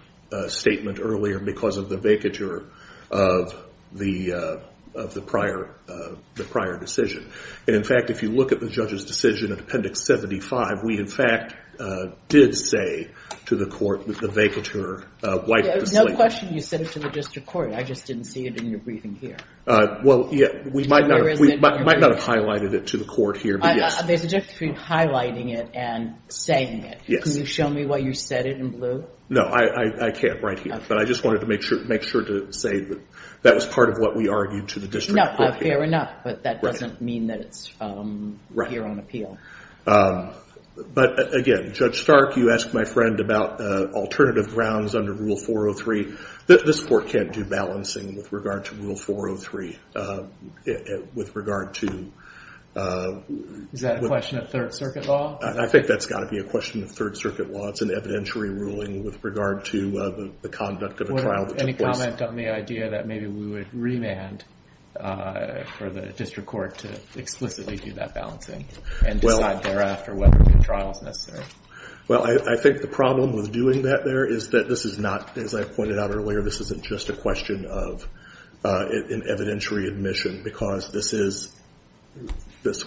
statement earlier because of the vacatur of the prior decision. And in fact, if you look at the judge's decision in Appendix 75, we in fact did say to the court that the vacatur wiped the slate. There's no question you said it to the district court, I just didn't see it in your briefing here. Well, yeah, we might not have highlighted it to the court here, but yes. There's a difference between highlighting it and saying it, can you show me why you said it in blue? No, I can't right here, but I just wanted to make sure to say that that was part of what we argued to the district court here. No, fair enough, but that doesn't mean that it's here on appeal. But again, Judge Stark, you asked my friend about alternative grounds under Rule 403. This court can't do balancing with regard to Rule 403. Is that a question of Third Circuit law? I think that's gotta be a question of Third Circuit law. It's an evidentiary ruling with regard to the conduct of a trial that took place. Any comment on the idea that maybe we would remand for the district court to explicitly do that balancing and decide thereafter whether the trial is necessary? Well, I think the problem with doing that there is that this is not, as I pointed out earlier, this isn't just a question of an evidentiary admission because this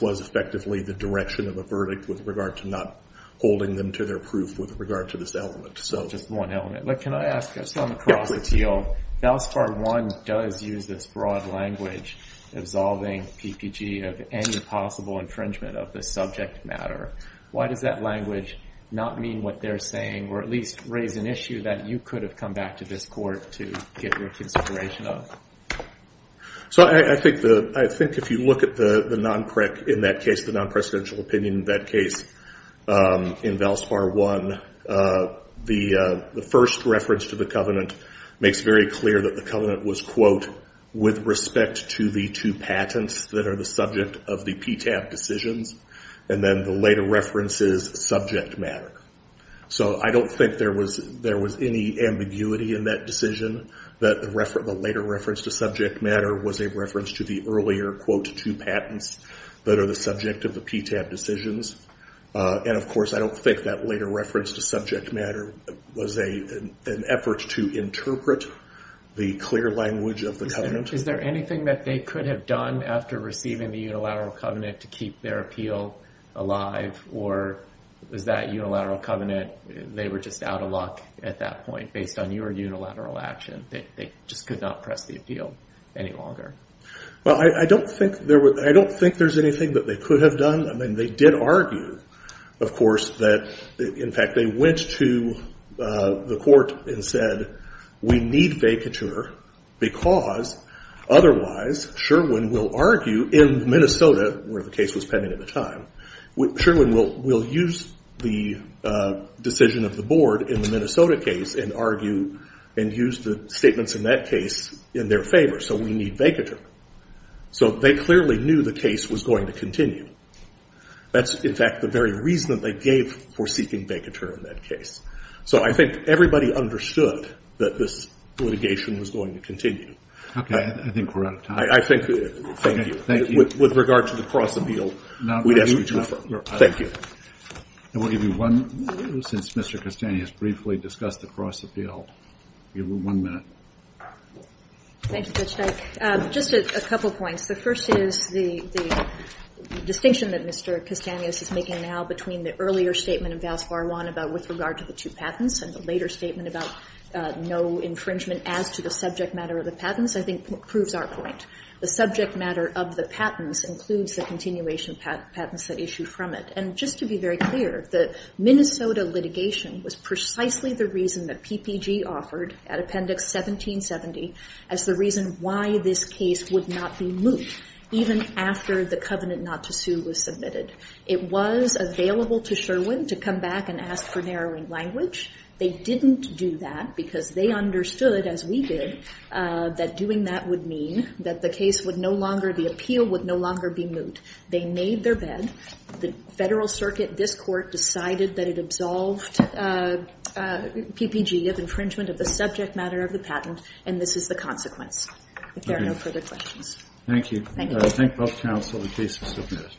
was effectively the direction of a verdict with regard to not holding them to their proof with regard to this element. Just one element. But can I ask, just on the cross appeal, FALSIFAR I does use this broad language absolving PPG of any possible infringement of the subject matter. Why does that language not mean what they're saying, or at least raise an issue that you could have come back to this court to get your consideration of? So I think if you look at the non-presidential opinion in that case, in FALSIFAR I, the first reference to the covenant makes very clear that the covenant was, quote, with respect to the two patents that are the subject of the PTAB decisions. And then the later reference is subject matter. So I don't think there was any ambiguity in that decision, that the later reference to subject matter was a reference to the earlier, quote, two patents that are the subject of the PTAB decisions. And of course, I don't think that later reference to subject matter was an effort to interpret the clear language of the covenant. Is there anything that they could have done after receiving the unilateral covenant to keep their appeal alive, or was that unilateral covenant, they were just out of luck at that point based on your unilateral action? They just could not press the appeal any longer? Well, I don't think there's anything that they could have done. I mean, they did argue, of course, that, in fact, they went to the court and said, we need vacatur because otherwise Sherwin will argue, in Minnesota, where the case was pending at the time, Sherwin will use the decision of the board in the Minnesota case and argue and use the statements in that case in their favor. So we need vacatur. So they clearly knew the case was going to continue. That's, in fact, the very reason that they gave for seeking vacatur in that case. So I think everybody understood that this litigation was going to continue. Okay, I think we're out of time. I think, thank you. With regard to the cross-appeal, we'd ask you to refer. Thank you. And we'll give you one minute since Mr. Castanhas briefly discussed the cross-appeal. Give you one minute. Thank you, Judge Dyke. Just a couple points. The first is the distinction that Mr. Castanhas is making now between the earlier statement of Vals Varwan with regard to the two patents and the later statement about no infringement as to the subject matter of the patents, I think proves our point. The subject matter of the patents includes the continuation of patents that issue from it. And just to be very clear, the Minnesota litigation was precisely the reason that PPG offered at Appendix 1770 as the reason why this case would not be moved even after the covenant not to sue was submitted. It was available to Sherwin to come back and ask for narrowing language. They didn't do that because they understood, as we did, that doing that would mean that the case would no longer, the appeal would no longer be moved. They made their bed. The Federal Circuit, this court, decided that it absolved PPG of infringement of the subject matter of the patent, and this is the consequence, if there are no further questions. Thank you. Thank both counsel, the case is submitted.